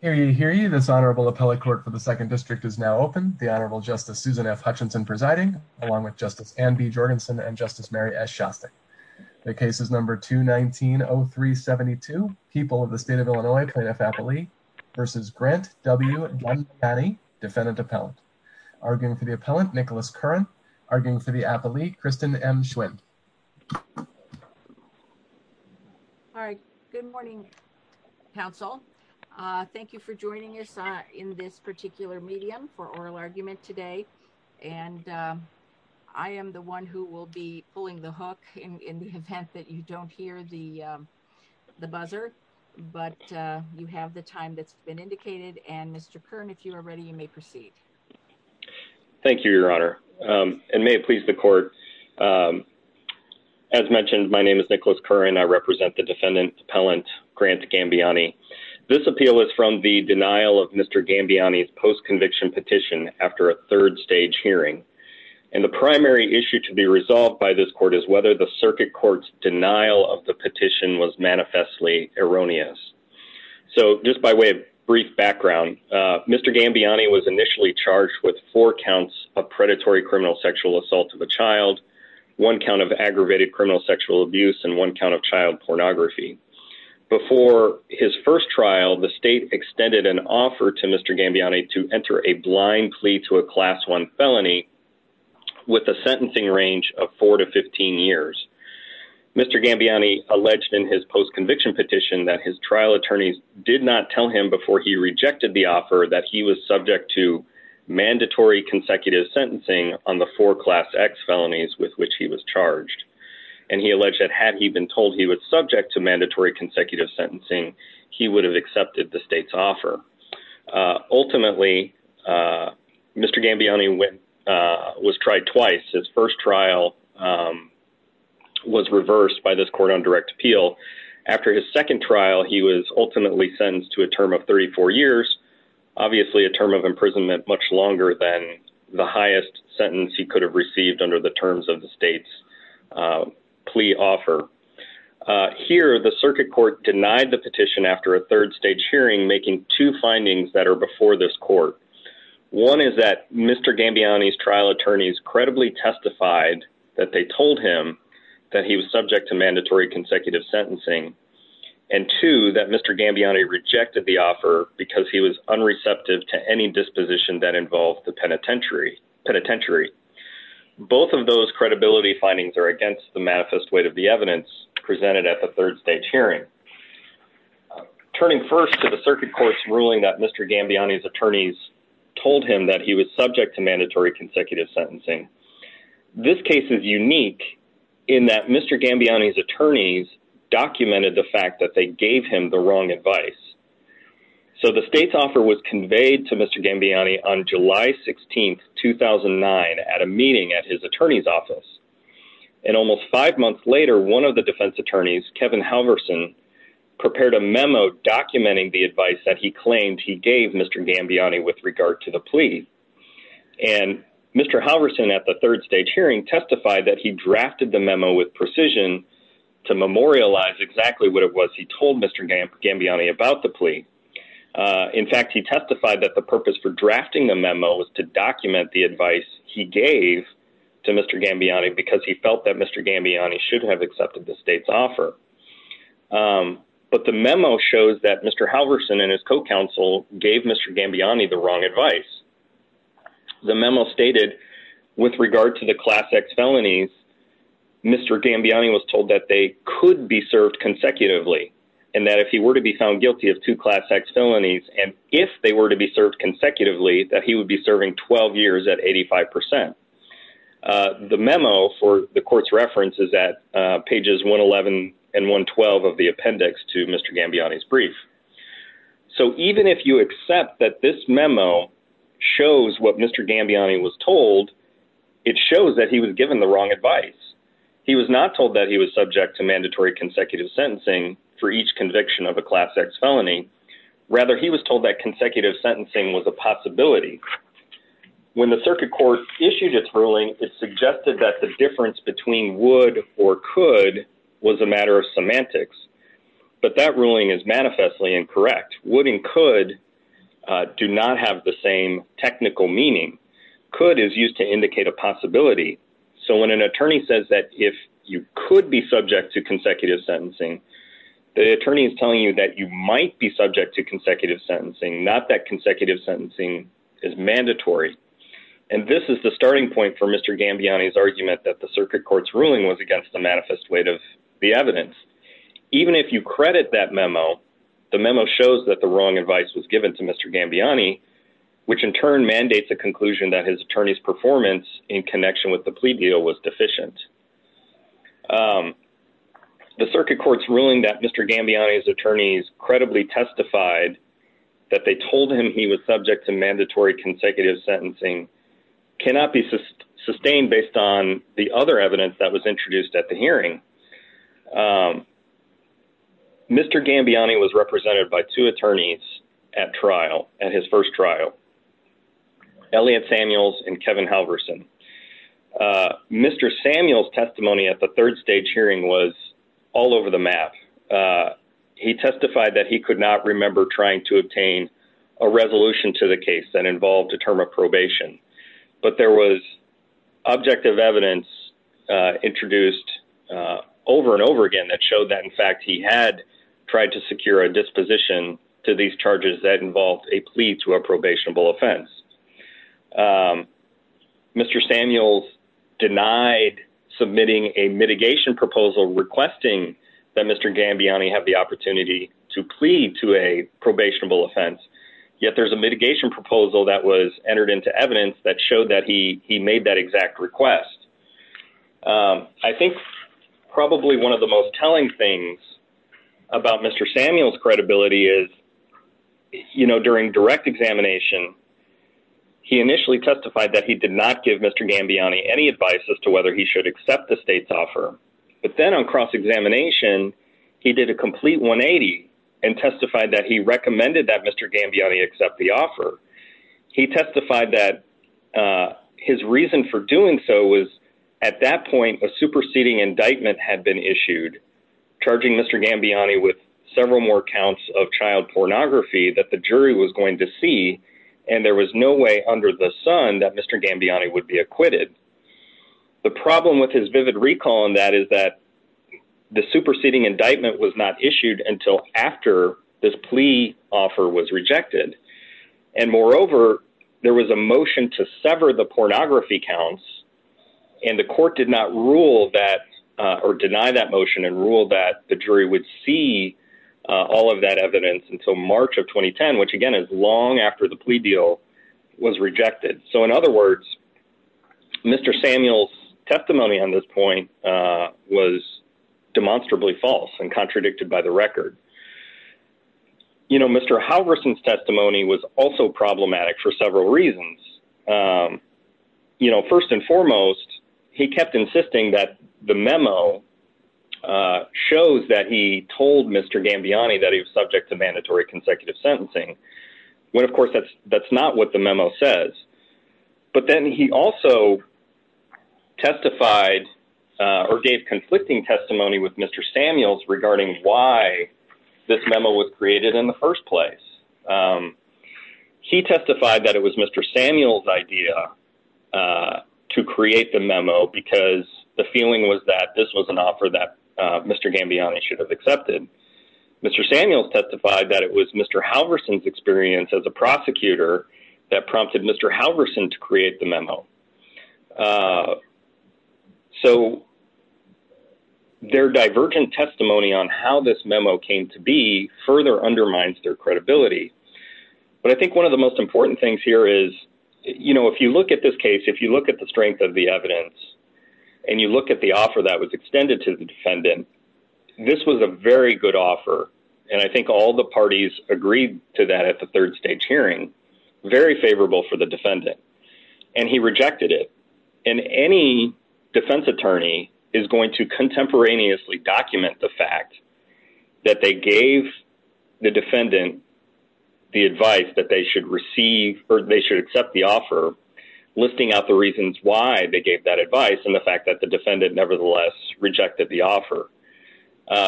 . This honorable appellate clerk for the second district is now open. The honorable justice Susan F. Hutchinson presiding along with justice Anne B. Jorgensen and justice Mary S. Schaffer. The case is number 219-0372. People of the state of Illinois plaintiff appellate v. Grant W. Gambaiani defendant appellant. Arguing for the appellant Nicholas Curran. Arguing for the appellate Kristen M. Schwinn. Good morning, counsel. Thank you for joining us in this particular medium for oral argument today. And I am the one who will be pulling the hook in the event that you don't hear the buzzer. But you have the time that's been indicated. And Mr. Curran, if you are ready, you may proceed. Thank you, your honor. And may it please the court. As mentioned, my name is Nicholas Curran. I represent the defendant appellant Grant Gambaiani. This appeal is from the denial of Mr. Gambaiani's post conviction petition after a third stage hearing. And the primary issue to be resolved by this court is whether the circuit court's denial of the petition was manifestly erroneous. So just by way of brief background, Mr. Gambaiani was initially charged with four counts of predatory criminal sexual assault of a child, one count of aggravated criminal sexual abuse and one count of child pornography. Before his first trial, the state extended an offer to Mr. Gambaiani to enter a blind plea to a class one felony with a sentencing range of four to 15 years. Mr. Gambaiani alleged in his post conviction petition that his trial attorneys did not tell him before he rejected the offer that he was subject to mandatory consecutive sentencing on the four class X felonies with which he was charged. And he alleged that had he been told he was subject to mandatory consecutive sentencing, he would have accepted the state's offer. Ultimately, Mr. Gambaiani was tried twice. His first trial was reversed by this court on direct appeal. After his second trial, he was ultimately sentenced to a term of 34 years, obviously a term of imprisonment much longer than the highest sentence he could have received under the terms of the state's plea offer. Here, the circuit court denied the petition after a third stage hearing, making two findings that are two that Mr. Gambaiani rejected the offer because he was unreceptive to any disposition that involved the penitentiary penitentiary. Both of those credibility findings are against the manifest weight of the evidence presented at the third stage hearing. Turning first to the circuit court's ruling that Mr. Gambaiani's attorneys told him that he was subject to mandatory consecutive sentencing. This case is unique in that Mr. Gambaiani's attorneys documented the fact that they gave him the wrong advice. So the state's offer was conveyed to Mr. Gambaiani on July 16, 2009 at a meeting at his attorney's office. And almost five months later, one of the defense attorneys, Kevin Halverson, prepared a memo documenting the advice that he claimed he gave Mr. Gambaiani with regard to the plea. And Mr. Halverson at the third stage hearing testified that he drafted the memo with precision to memorialize exactly what it was he told Mr. Gambaiani about the plea. In fact, he testified that the purpose for drafting the memo was to document the advice he gave to Mr. Gambaiani because he felt that Mr. Gambaiani should have accepted the state's offer. But the memo shows that Mr. Halverson and his co-counsel gave Mr. Gambaiani the wrong advice. The memo stated with regard to the class X felonies, Mr. Gambaiani was told that they could be served consecutively and that if he were to be found guilty of two class X felonies and if they were to be served consecutively, that he would be serving 12 years at 85%. The memo for the court's reference is at pages 111 and 112 of the appendix to Mr. Gambaiani's brief. So even if you accept that this memo shows what Mr. Gambaiani was told, it shows that he was given the wrong advice. He was not told that he was subject to mandatory consecutive sentencing for each conviction of a class X felony. Rather, he was told that consecutive sentencing was a possibility. When the circuit court issued its ruling, it suggested that the difference between would or could was a matter of semantics. But that ruling is manifestly incorrect. Would and could do not have the same technical meaning. Could is used to indicate a possibility. So when an attorney says that if you could be subject to consecutive sentencing, the attorney is telling you that you might be subject to consecutive sentencing, not that consecutive sentencing is mandatory. And this is the starting point for Mr. Gambaiani's argument that the circuit court's ruling was against the manifest weight of the evidence. Even if you credit that memo, the memo shows that the wrong advice was given to Mr. Gambaiani, which in turn mandates the conclusion that his attorney's performance in connection with the plea deal was deficient. The circuit court's ruling that Mr. Gambaiani's attorneys credibly testified that they told him he was not subject to consecutive sentencing was in line with the objective evidence that was introduced at the hearing. Mr. Gambaiani was represented by two attorneys at trial, at his first trial. Elliot Samuels and Kevin Halverson. Mr. Samuels' testimony at the third stage hearing was all over the map. He testified that he could not remember trying to obtain a resolution to the case that involved a term of probation. But there was objective evidence introduced over and over again that showed that, in fact, he had tried to secure a disposition to these charges that involved a plea to a probationable offense. Mr. Samuels denied submitting a mitigation proposal requesting that Mr. Gambaiani have the opportunity to plead to a probationable offense. Yet there's a mitigation proposal that was entered into evidence that showed that he made that exact request. I think probably one of the most telling things about Mr. Samuels' credibility is, you know, during direct examination, he initially testified that he did not give Mr. Gambaiani any advice as to whether he should accept the state's offer. But then on cross-examination, he did a complete 180 and testified that he recommended that Mr. Gambaiani accept the offer. He testified that his reason for doing so was, at that point, a superseding indictment. He testified that there was no way under the sun that Mr. Gambaiani would be acquitted. The problem with his vivid recall on that is that the superseding indictment was not issued until after this plea offer was rejected. And moreover, there was a motion to sever the pornography counts, and the court did not rule that or deny that motion and ruled that the jury would see all of that evidence until March of 2010, which, again, is long after the plea deal was rejected. So in other words, Mr. Samuels' testimony on this point was demonstrably false and contradicted by the record. You know, Mr. Halverson's testimony was also suggesting that the memo shows that he told Mr. Gambaiani that he was subject to mandatory consecutive sentencing, when, of course, that's not what the memo says. But then he also testified or gave conflicting testimony with Mr. Samuels regarding why this memo was created in the first place. He testified that it was Mr. Samuels' idea to create the memo because the feeling was that this was an offer that Mr. Gambaiani should have accepted. Mr. Samuels testified that it was Mr. Halverson's experience as a prosecutor that prompted Mr. Halverson to create the memo. So their testimony was very much in line with Mr. Gambaiani's testimony. But I think one of the most important things here is, you know, if you look at this case, if you look at the strength of the evidence and you look at the offer that was extended to the defendant, this was a very good offer. And I think all the parties agreed to that at the third stage hearing. Very favorable for the defendant. And he rejected it. And any defense attorney is going to contemporaneously document the fact that they gave the defendant the advice that they should receive or they should accept the offer, listing out the reasons why they gave that advice and the fact that the defendant nevertheless rejected the offer.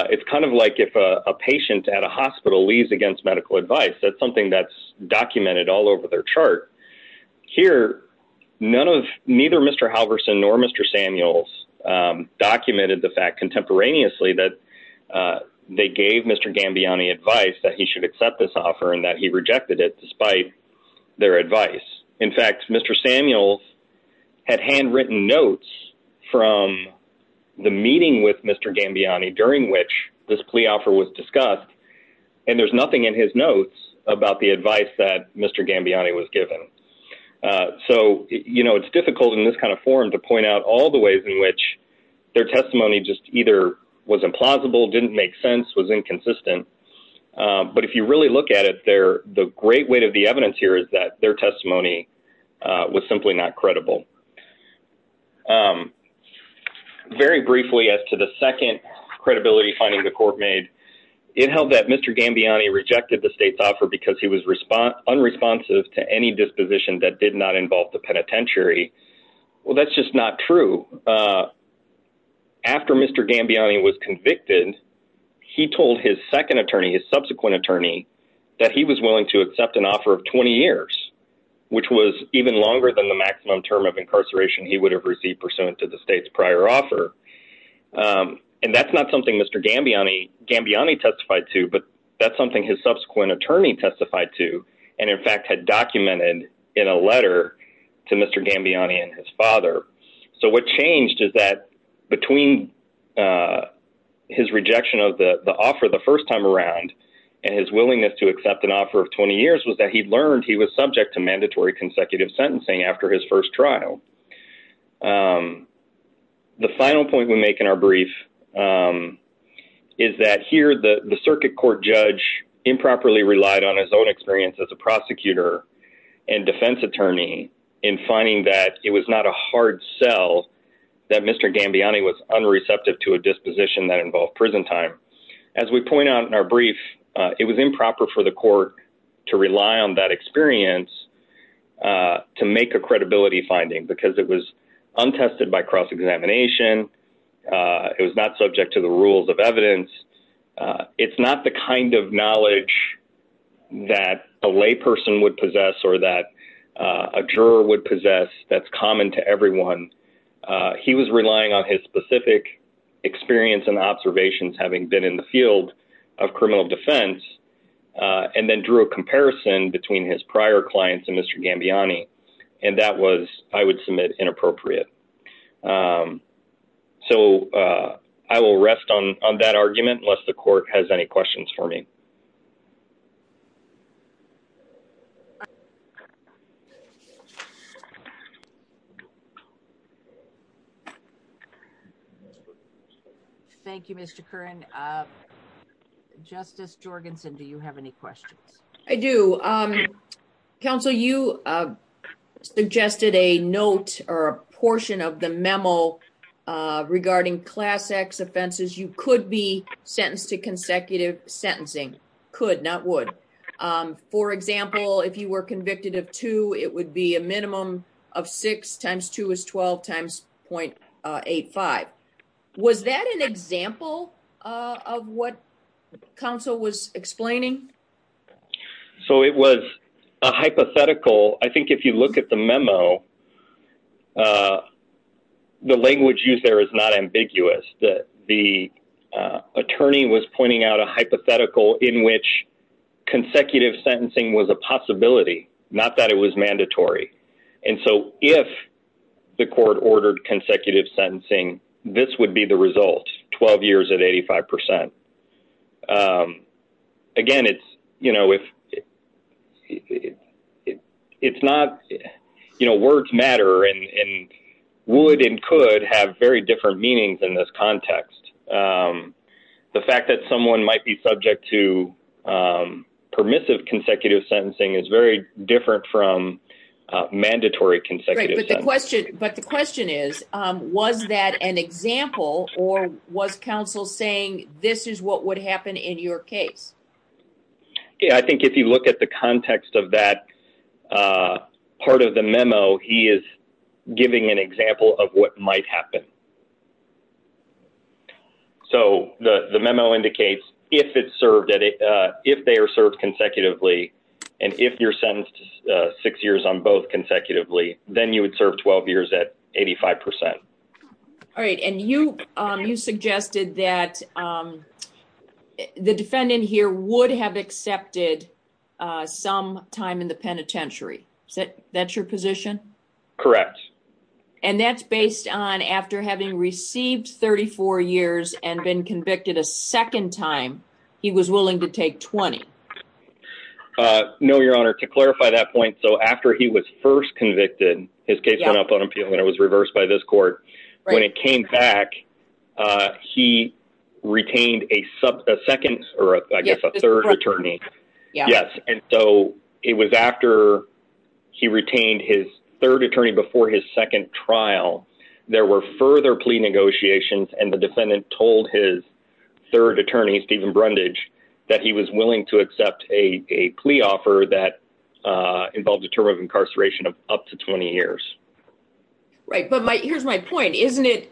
It's kind of like if a patient at a hospital leaves against medical advice. That's something that's documented all over their chart. Here, neither Mr. Halverson nor Mr. Samuels documented the fact contemporaneously that they gave Mr. Gambaiani advice that he should accept this offer and that he rejected it despite their advice. In fact, Mr. Samuels had handwritten notes from the meeting with Mr. Gambiani during which this plea offer was discussed and there's nothing in his notes about the advice that Mr. Gambiani was given. So, you know, it's difficult in this kind of forum to point out all the ways in which their testimony just either was implausible, didn't make sense, was inconsistent. But if you really look at it, the great weight of the evidence here is that their testimony was simply not credible. Very briefly, as to the second credibility finding the court made, it held that Mr. Gambiani rejected the state's offer because he was unresponsive to any disposition that did not involve the penitentiary. Well, that's just not true. After Mr. Gambiani was convicted, he told his second attorney, his subsequent attorney, that he was willing to accept an offer of 20 years, which was even longer than the maximum term of incarceration he would have received pursuant to the state's prior offer. And that's not something Mr. Gambiani testified to, but that's something his subsequent attorney testified to and, in fact, had documented in a letter to Mr. Gambiani and his father. So what changed is that between his rejection of the offer the first time around and his willingness to accept an offer of 20 years was that he learned he was subject to mandatory consecutive sentencing after his first trial. The final point we make in our brief is that here the circuit court judge improperly relied on his own experience as a prosecutor and defense attorney in finding that it was not a hard sell that Mr. Gambiani was unreceptive to a disposition that involved prison time. As we point out in our brief, it was improper for the court to rely on that experience to make a credibility finding because it was untested by cross-examination. It was not subject to the rules of evidence. It's not the kind of knowledge that a layperson would possess or that a juror would possess that's common to everyone. He was relying on his specific experience and observations, having been in the field of criminal defense and then drew a comparison between his prior clients and Mr. Gambiani and that was, I would submit, inappropriate. So I will rest on that argument unless the court has any questions for me. Thank you, Mr. Curran. Justice Jorgensen, do you have any questions? I do. Counsel, you suggested a note or a portion of the memo regarding Class X offenses. You could be sentenced to consecutive sentencing. Could you be sentenced to consecutive For example, if you were convicted of 2, it would be a minimum of 6 times 2 is 12 times .85. Was that an example of what counsel was explaining? So it was a hypothetical. I think if you look at the memo, the language used there is not ambiguous. The attorney was pointing out a hypothetical in which consecutive sentencing was a possibility, not that it was mandatory. And so if the court ordered consecutive sentencing, this would be the result, 12 years at 85%. Again, words matter and would and could have very different meanings in this context. The fact that someone might be subject to permissive consecutive sentencing is very different from mandatory consecutive sentencing. But the question is, was that an example or was counsel saying this is what would happen in your case? Yeah, I think if you look at the context of that part of the memo, he is giving an example of what might happen. So the memo indicates if they are served consecutively, and if you are sentenced 6 years on both consecutively, then you would serve 12 years at 85%. And you suggested that the defendant here would have accepted some time in the penitentiary. Is that your position? Correct. And that is based on after having received 34 years and been convicted a second time, he was willing to take 20? No, Your Honor. To clarify that point, after he was first convicted, when it came back, he retained a second or I guess a third attorney. Yes. And so it was after he retained his third attorney before his second trial. There were further plea negotiations, and the defendant told his third attorney, Steven Brundage, that he was willing to accept a plea offer that involved a term of incarceration of up to 20 years. Right. But here's my point. Isn't it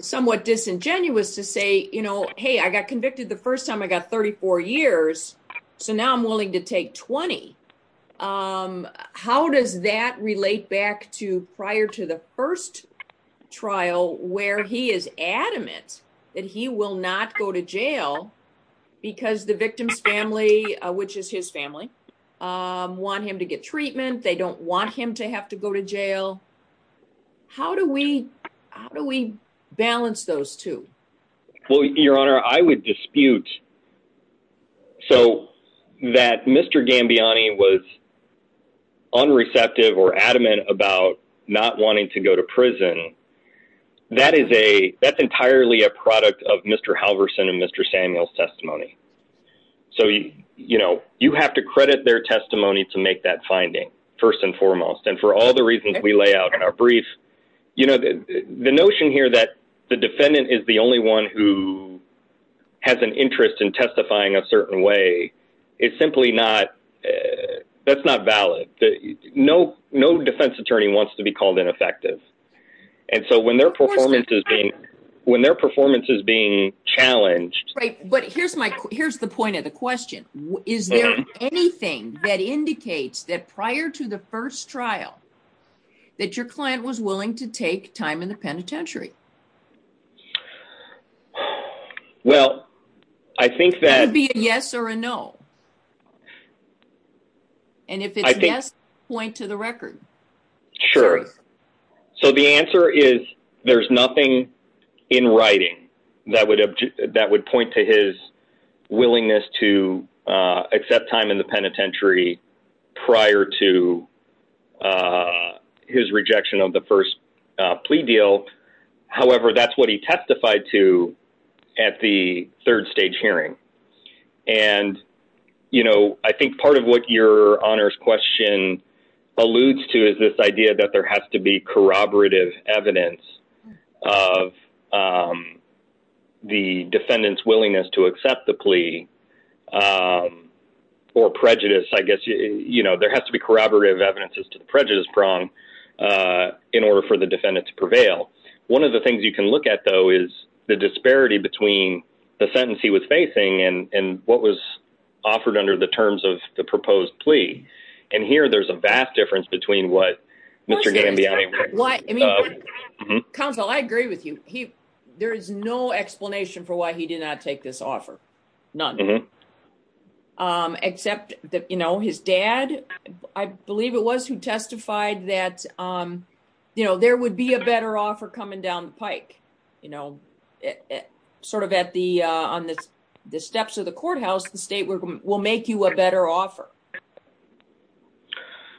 somewhat disingenuous to say, hey, I got convicted the first time I got 34 years, so now I'm willing to take 20? How does that relate back to prior to the first trial where he is adamant that he will not go to jail because the victim's family, which is his family, wants him to get treatment. They don't want him to have to go to jail. How do we balance those two? Well, Your Honor, I would dispute that Mr. Gambiani was unreceptive or adamant about not wanting to go to prison. That's entirely a product of Mr. Halverson and Mr. Samuel's testimony. So you have to credit their testimony to make that finding, first and foremost. And for all the reasons we lay out in our brief, the notion here that the defendant is the only one who has an interest in testifying a certain way, it's simply not. That's not valid. No defense attorney wants to be called ineffective. And so when their performance is being challenged... But here's the point of the question. Is there anything that indicates that prior to the first trial that your client was willing to take time in the penitentiary? Well, I think that... Could it be a yes or a no? And if it's a yes, point to the record. Sure. So the answer is there's nothing in writing that would point to his willingness to accept time in the penitentiary prior to his rejection of the first plea deal. However, that's what he testified to at the third stage hearing. And I think part of what your honors question alludes to is this idea that there has to be corroborative evidence of the defendant's willingness to accept the plea or prejudice. I guess there has to be corroborative evidence to the prejudice prong in order for the defendant to prevail. One of the things you can look at, though, is the disparity between the sentence he was facing and what was offered under the terms of the proposed plea. And here there's a vast difference between what Mr. Gambiani... Counsel, I agree with you. There is no explanation for why he did not take this offer. None. Except that his dad, I believe it was, who testified that there would be a better offer coming down the pike. You know, sort of on the steps of the courthouse, the state will make you a better offer.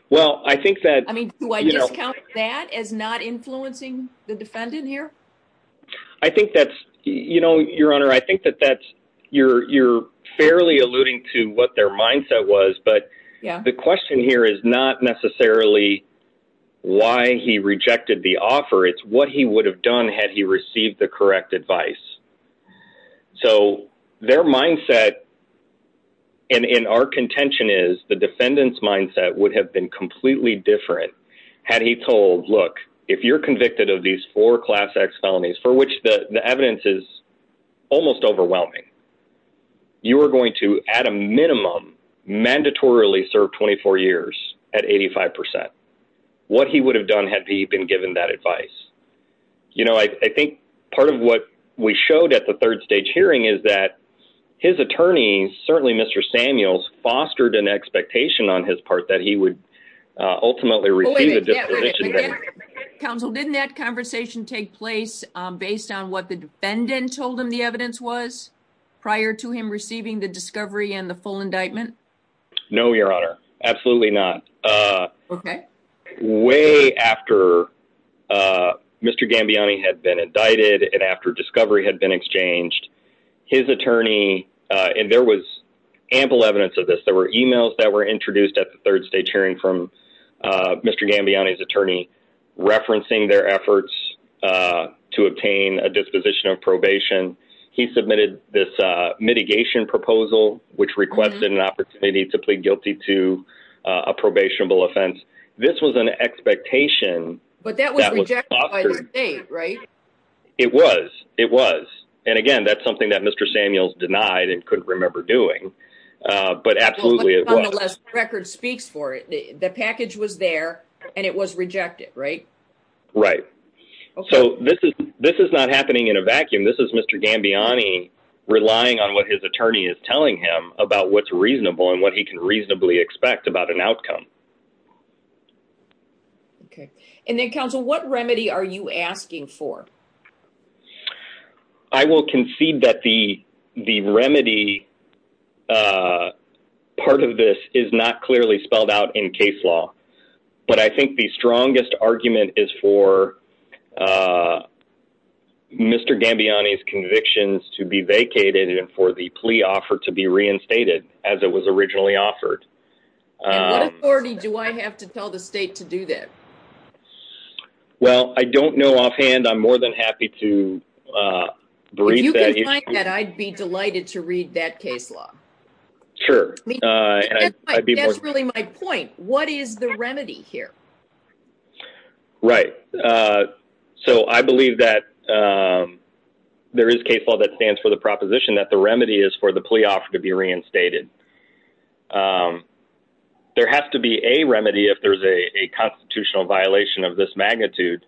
Well, I think that... I mean, do I discount that as not influencing the defendant here? I think that's... You know, your honor, I think that that's... You're fairly alluding to what their mindset was, but the question here is not necessarily why he rejected the offer. It's what he would have done had he received the correct advice. So their mindset, and in our contention is, the defendant's mindset would have been completely different had he told, look, if you're convicted of these four class X felonies, for which the evidence is almost overwhelming, you are going to, at a minimum, mandatorily serve 24 years at 85%. What he would have done had he been given that advice. You know, I think part of what we showed at the third stage hearing is that his attorney, certainly Mr. Samuels, fostered an expectation on his part that he would ultimately receive a disposition. Counsel, didn't that conversation take place based on what the defendant told him the evidence was prior to him receiving the discovery and the full indictment? No, your honor. Absolutely not. Okay. Way after Mr. Gambiani had been indicted and after discovery had been exchanged, his attorney, and there was Mr. Gambiani referencing their efforts to obtain a disposition of probation, he submitted this mitigation proposal which requested an opportunity to plead guilty to a probationable offense. This was an expectation. But that was rejected by the state, right? It was. It was. And again, that's something that Mr. Samuels denied and couldn't remember doing. But absolutely it was. The record speaks for it. The package was there and it was rejected, right? Right. So this is not happening in a vacuum. This is Mr. Gambiani relying on what his attorney is telling him about what's reasonable and what he can reasonably expect about an outcome. Okay. And then, counsel, what remedy are you asking for? I will concede that the remedy part of this is not clearly spelled out in case law. But I think the strongest argument is for Mr. Gambiani's convictions to be vacated and for the plea offer to be reinstated as it was originally offered. And what authority do I have to tell the state to do this? Well, I don't know offhand. I'm more than happy to brief that. You can find that. I'd be delighted to read that case law. That's really my point. What is the remedy here? Right. So I believe that there is case law that stands for the proposition that the remedy is for the plea offer to be reinstated. There has to be a remedy if there's a constitutional violation of this magnitude.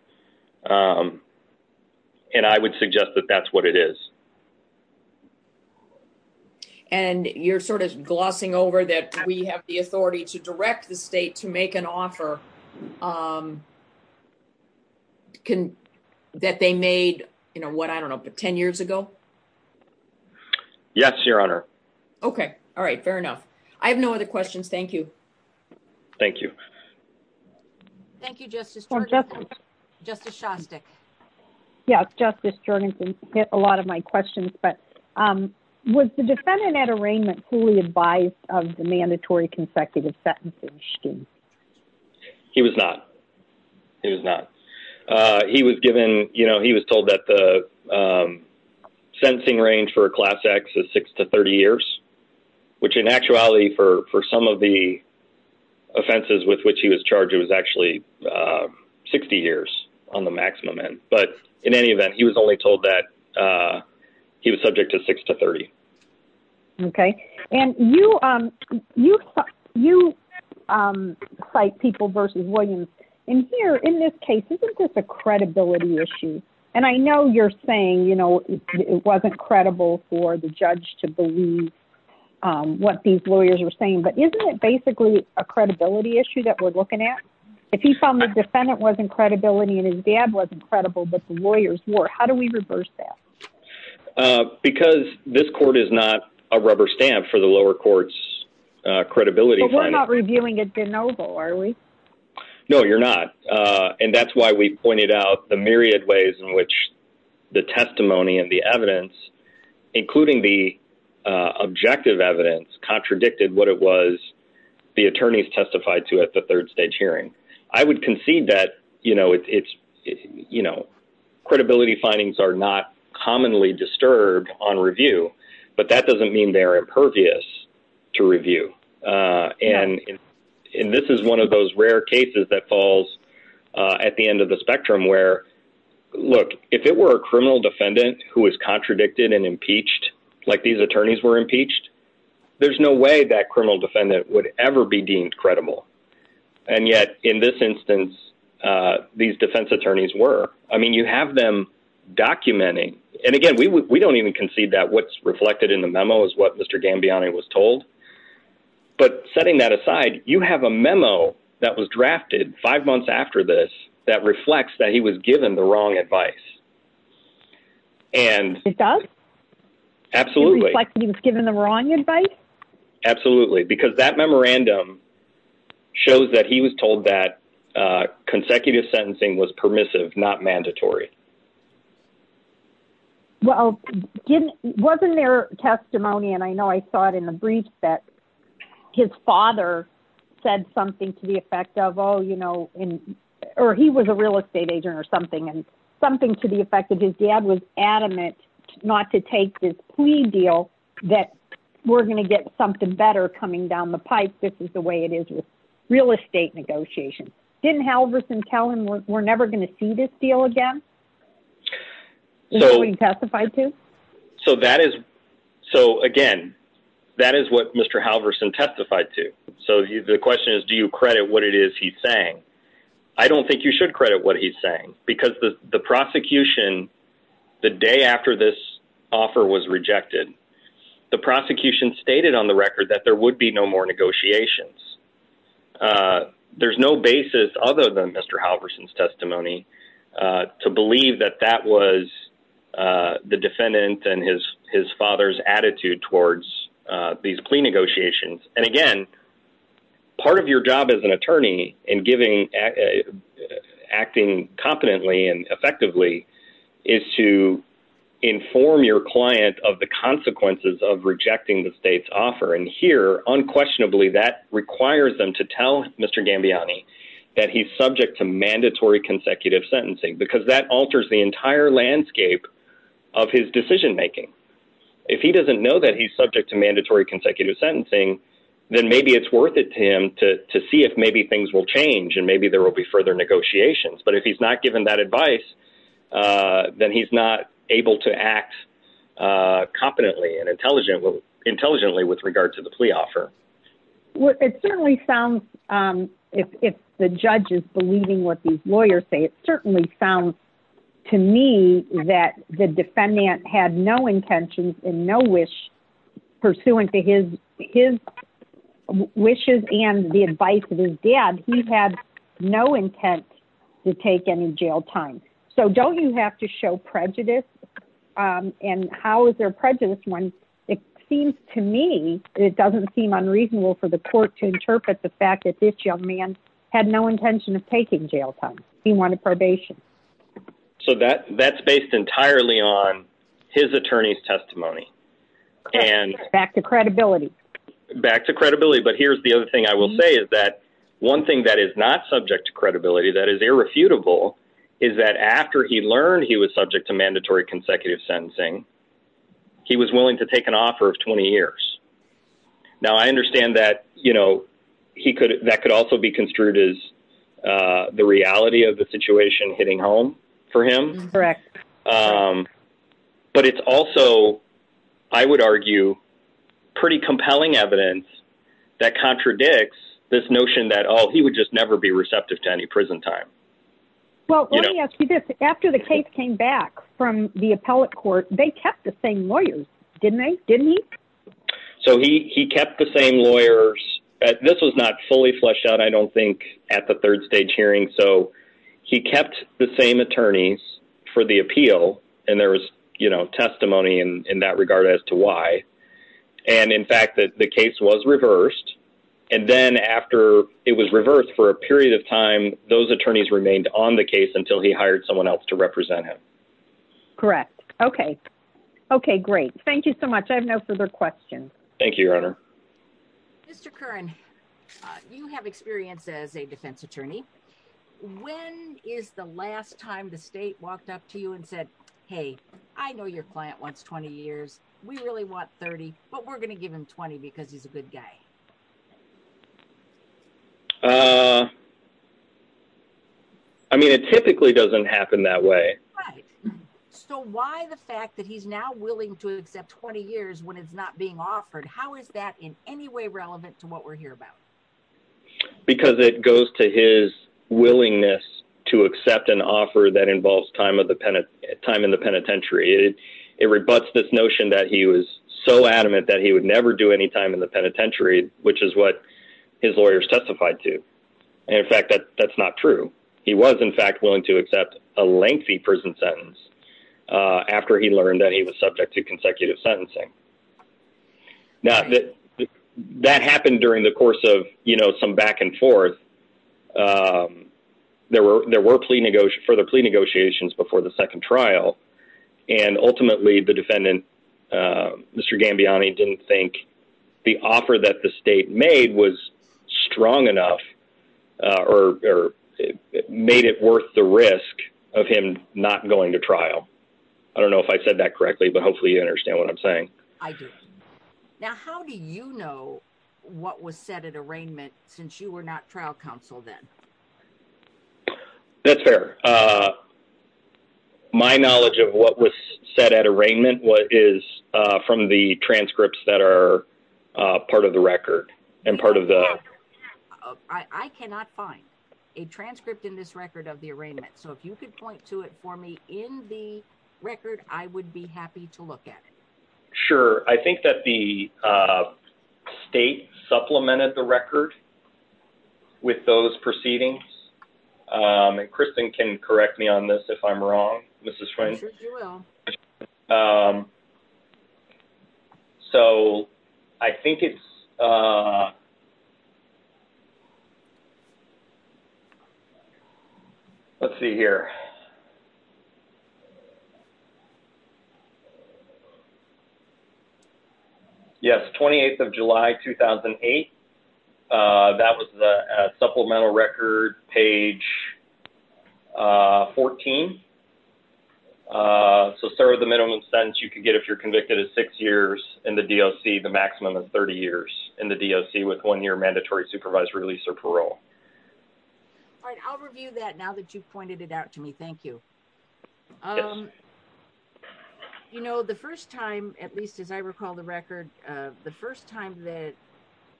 And I would suggest that that's what it is. And you're sort of glossing over that we have the authority to direct the state to make an offer that they made, I don't know, 10 years ago? Yes, Your Honor. Okay. All right. Fair enough. I have no other questions. Thank you. Thank you. Thank you, Justice Shantek. Yes, Justice Jorgensen, you get a lot of my questions, but was the defendant at arraignment fully advised of the mandatory consecutive sentences? He was not. He was not. He was given, you know, he was told that the extending range for Class X is 6 to 30 years, which in actuality for some of the offenses with which he was charged, it was actually 60 years on the maximum end. But in any event, he was only told that he was subject to 6 to 30. Okay. And you cite people versus Williams. And here in this case, isn't this a credibility issue? And I know you're saying, you know, it wasn't credible for the judge to believe what these lawyers were saying, but isn't it basically a credibility issue that we're looking at? If he found the defendant wasn't credibility and his dad wasn't credible, but the lawyers were, how do we reverse that? Because this court is not a rubber stamp for the lower court's credibility. No, you're not. And that's why we pointed out the myriad ways in which the testimony and the evidence, including the objective evidence, contradicted what it was the attorneys testified to at the third stage hearing. I would concede that, you know, it doesn't mean they're impervious to review. And this is one of those rare cases that falls at the end of the spectrum where, look, if it were a criminal defendant who was contradicted and impeached, like these attorneys were impeached, there's no way that criminal defendant would ever be deemed credible. And yet in this instance, these defense attorneys were. I mean, you have them documenting. And again, we don't even concede that what's reflected in the memo is what Mr. Gambiani was told. But setting that aside, you have a memo that was drafted five months after this that reflects that he was given the wrong advice. And he was given the wrong advice? Absolutely. Absolutely. Because that memorandum shows that he was told that consecutive sentencing was permissive, not mandatory. Well, wasn't there testimony? And I know I saw it in the brief that his father said something to the effect of, oh, you know, or he was a real estate agent or something and something to the effect that his dad was adamant not to take this plea deal that we're going to get something better coming down the pipe. This is the way it is with real estate negotiations. Didn't Halverson tell him we're never going to see this deal again? So that is so again, that is what Mr. Halverson testified to. So the question is, do you credit what it is he's saying? I don't think you should credit what he's saying, because the prosecution the day after this offer was rejected, the prosecution stated on the record that there would be no more negotiations. There's no basis other than Mr. Halverson's testimony to believe that that was the defendant and his his father's attitude towards these plea negotiations. And again, part of your job as an attorney and giving acting competently and effectively is to inform your client of the consequences of rejecting the state's offer. And here, unquestionably, that requires them to tell Mr. Gambiani that he's subject to mandatory consecutive sentencing because that alters the entire landscape of his decision making. If he doesn't know that he's subject to mandatory consecutive sentencing, then maybe it's worth it to him to see if maybe things will change and maybe there will be further negotiations. But if he's not given that advice, then he's not able to act competently and intelligently with regard to the plea offer. If the judge is believing what these lawyers say, it certainly sounds to me that the defendant had no intentions and no wish pursuant to his wishes and the advice of his dad. He had no intent to take any jail time. So don't you have to show prejudice? And how is there prejudice when it seems to me it doesn't seem unreasonable for the court to interpret the fact that this young man had no intention of taking jail time. He wanted probation. So that's based entirely on his attorney's testimony. Back to credibility. Back to credibility. But here's the other thing I will say is that one thing that is not subject to credibility that is irrefutable is that after he learned he was subject to mandatory consecutive sentencing, he was willing to take an offer of 20 years. Now, I understand that that could also be construed as the reality of the situation hitting home for him. But it's also, I would argue, pretty compelling evidence that contradicts this notion that he would just never be receptive to any prison time. After the case came back from the appellate court, they kept the same lawyers, didn't they? So he kept the same lawyers. This was not fully fleshed out, I don't think, at the third stage hearing. So he kept the same attorneys for the appeal. And there was testimony in that regard as to why. And in fact, the case was reversed. And then after it was reversed for a period of time, those attorneys remained on the case until he hired someone else to represent him. Thank you so much. I have no further questions. Mr. Curran, you have experience as a defense attorney. When is the last time the state walked up to you and said, hey, I know your client wants 20 years. We really want 30. But we're going to give him 20 because he's a good guy. I mean, it typically doesn't happen that way. So why the fact that he's now willing to accept 20 years when it's not being offered? How is that in any way relevant to what we're here about? Because it goes to his willingness to accept an offer that involves time in the penitentiary. It rebuts this notion that he was so adamant that he would never do any time in the penitentiary, which is what his lawyers testified to. And in fact, that's not true. He was, in fact, willing to accept a lengthy prison sentence after he learned that he was subject to consecutive sentencing. That happened during the course of some back and forth. There were plea negotiations before the second trial. And ultimately, the defendant, Mr. Gambiani, didn't think the offer that the state made was strong enough or made it worth the risk of him not going to trial. I don't know if I said that correctly, but hopefully you understand what I'm saying. I do. Now, how do you know what was set at arraignment since you were not trial counsel then? That's fair. My knowledge of what was set at arraignment is from the transcripts that are part of the record. I cannot find a transcript in this record of the trial. Sure. I think that the state supplemented the record with those proceedings. And Kristen can correct me on this if I'm wrong, Mrs. Friend. I'm sure you will. So I think it's correct. Let's see here. Yes, 28th of July 2008. That was the supplemental record page 14. So the minimum sentence you can get if you're convicted is six years in the DOC. The maximum is 30 years in the DOC with one year mandatory supervised release or parole. I'll review that now that you've pointed it out to me. Thank you. You know, the first time, at least as I recall the record, the first time that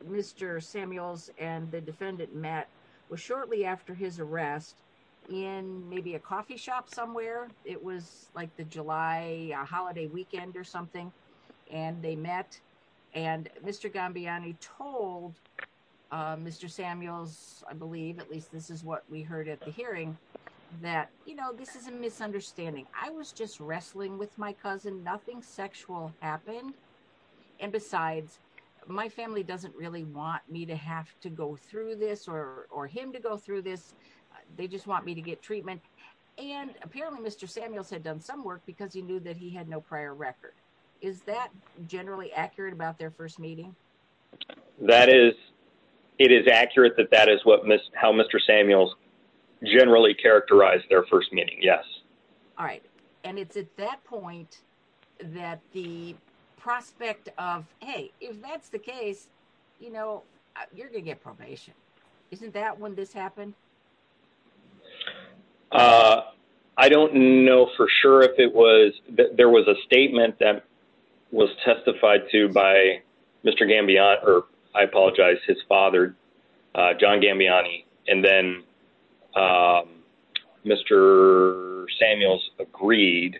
Mr. Samuels and the defendant met was shortly after his arrest in maybe a coffee shop somewhere. It was like the July holiday weekend or something. And they met and Mr. Gambiani told Mr. Samuels, I believe at least this is what we heard at the hearing, that, you know, this is a misunderstanding. I was just wrestling with my mind. I don't know how this will happen. And besides, my family doesn't really want me to have to go through this or him to go through this. They just want me to get treatment. And apparently Mr. Samuels had done some work because he knew that he had no prior record. Is that generally accurate about their first meeting? That is, it is accurate that that is how Mr. Samuels generally characterized their first meeting. Yes. All right. And it's at that point that the prospect of, hey, if that's the case, you know, you're going to get probation. Isn't that when this happened? I don't know for sure if it was that there was a statement that was testified to by Mr. Gambian or I apologize, his father, John Gambiani. And then Mr. Samuels agreed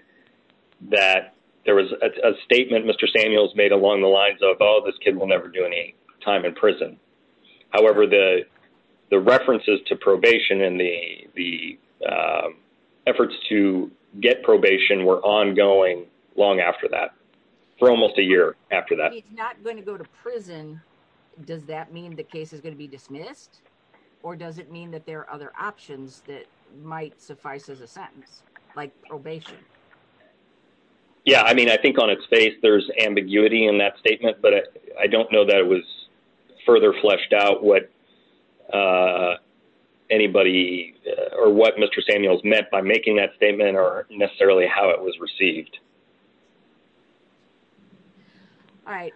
that there was a statement Mr. Samuels made along the lines of, oh, this kid will never do any time in prison. However, the references to probation and the efforts to get probation were ongoing long after that, for almost a year after that. If he's not going to go to prison, does that mean the case is going to be dismissed? Or does it mean that there are other options that might suffice as a sentence, like probation? Yeah. I mean, I think on its face, there's ambiguity in that statement, but I don't know that it was further fleshed out what anybody or what Mr. Samuels meant by making that statement or necessarily how it was received. All right.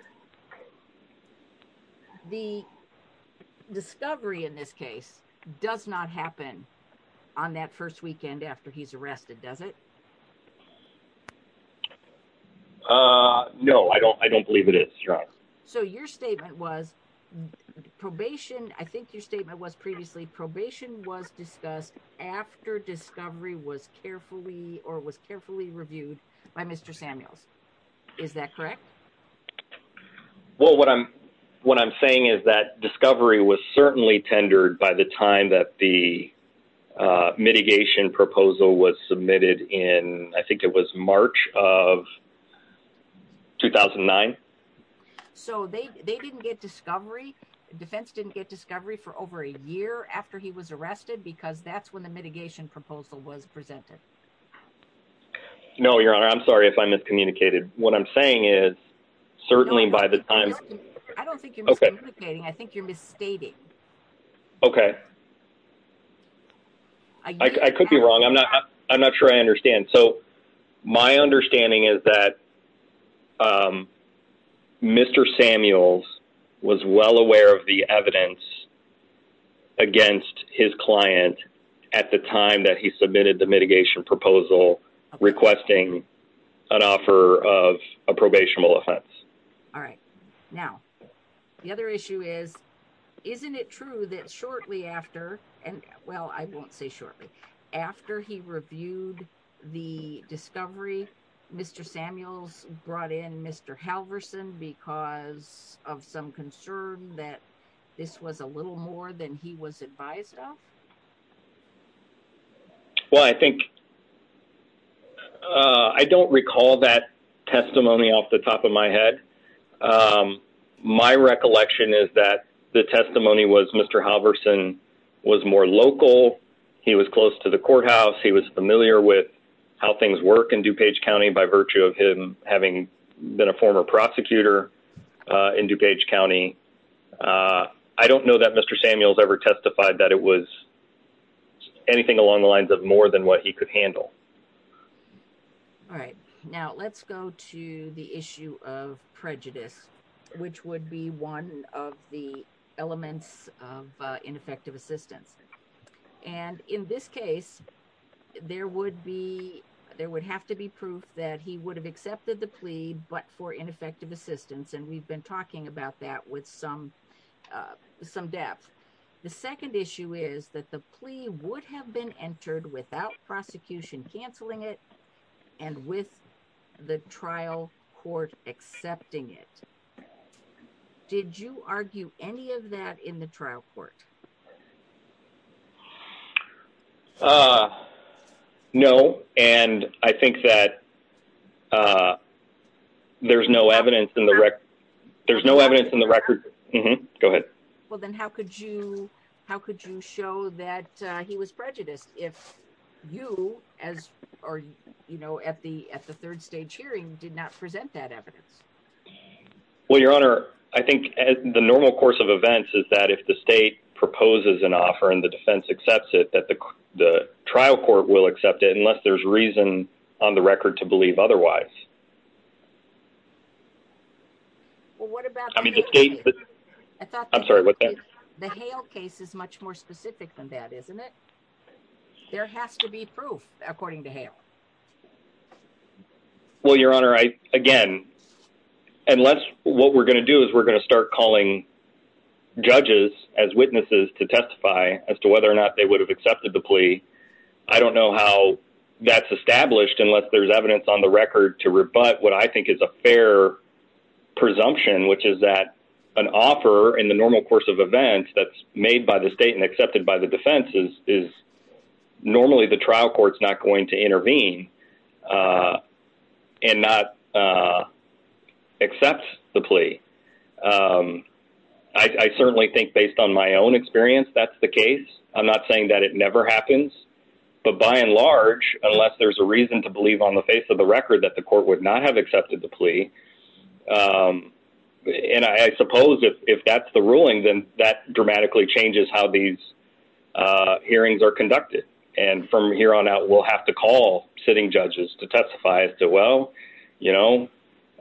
The discovery in this case does not happen on that first weekend after he's arrested, does it? No, I don't believe it is. So your statement was probation. I think your statement was previously probation was discussed after discovery was carefully or was carefully reviewed by Mr. Samuels. Is that correct? Well, what I'm saying is that discovery was certainly tendered by the time that the mitigation proposal was submitted in, I think it was March of 2009. So they didn't get discovery. Defense didn't get discovery for over a year after he was arrested because that's when the mitigation proposal was presented. No, Your Honor, I'm sorry if I miscommunicated. What I'm saying is certainly by the time I don't think you're miscommunicating. I think you're misstating. I could be wrong. I'm not sure I understand. So my understanding is that Mr. Samuels was well aware of the evidence against his client at the time that he submitted the mitigation proposal requesting an offer of a probational offense. Now, the other issue is, isn't it true that shortly after, well, I won't say shortly, after he reviewed the discovery, Mr. Samuels brought in Mr. Halverson because of some concern that this was a little more than he was advised of? Well, I think I don't recall that testimony off the top of my head. My recollection is that the testimony was Mr. Halverson was more local. He was close to the courthouse. He was familiar with how things work in DuPage County by virtue of him having been a former prosecutor in DuPage County. I don't know that Mr. Samuels ever testified that it was anything along the lines of more than what he could handle. All right. Now let's go to the issue of prejudice, which would be one of the elements of ineffective assistance. And in this case, there would have to be proof that he would have accepted the plea but for ineffective assistance, and we've been talking about that with some depth. The second issue is that the plea would have been entered without prosecution canceling it and with the trial court accepting it. Did you argue any of that in the trial court? No, and I think that there's no evidence in the record. Go ahead. Well, then how could you show that he was prejudiced if you at the third stage hearing did not present that evidence? Well, Your Honor, I think the normal course of events is that if the state proposes an offer and the defense accepts it, that the trial court will accept it unless there's reason on the record to believe otherwise. The Hale case is much more specific than that, isn't it? There has to be proof according to Hale. Well, Your Honor, again, unless what we're going to do is we're going to start calling judges as witnesses to testify as to whether or not they would have accepted the plea, I don't know how that's established unless there's evidence on the record to rebut what I think is a fair presumption, which is that an offer in the normal course of events that's made by the state and accepted by the defense is normally the trial court's not going to intervene and not accept the plea. I certainly think based on my own experience, that's the case. I'm not saying that it never happens, but by and large, unless there's a reason to believe on the face of the record that the court would not have accepted the plea. And I suppose if that's the ruling, then that dramatically changes how these hearings are conducted. And from here on out, we'll have to call sitting judges to testify as to, well, you know,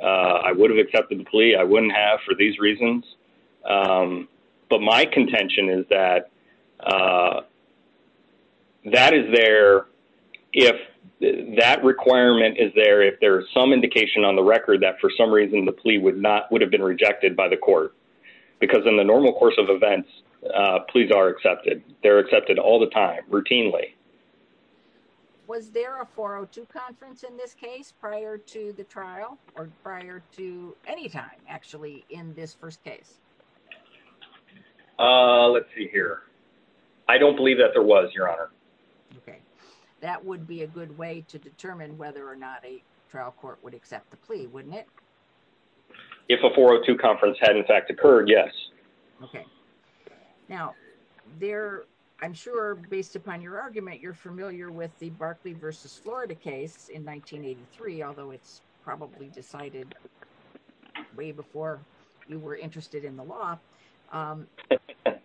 I would have accepted the plea. I wouldn't have for these reasons. But my contention is that that is there if that requirement is there, if there's some indication on the record that for some reason the plea would have been rejected by the court. Because in the normal course of events, pleas are accepted. They're accepted all the time, routinely. Was there a 402 conference in this case prior to the trial or prior to any time actually in this first case? Let's see here. I don't believe that there was, Your Honor. Okay. That would be a good way to determine whether or not a trial court would accept the plea, wouldn't it? If a 402 conference had, in fact, occurred, yes. Now, I'm sure based upon your argument, you're familiar with the Barclays v. Florida case in 1983, although it's probably decided way before you were here. And I'm sure you're familiar with the case in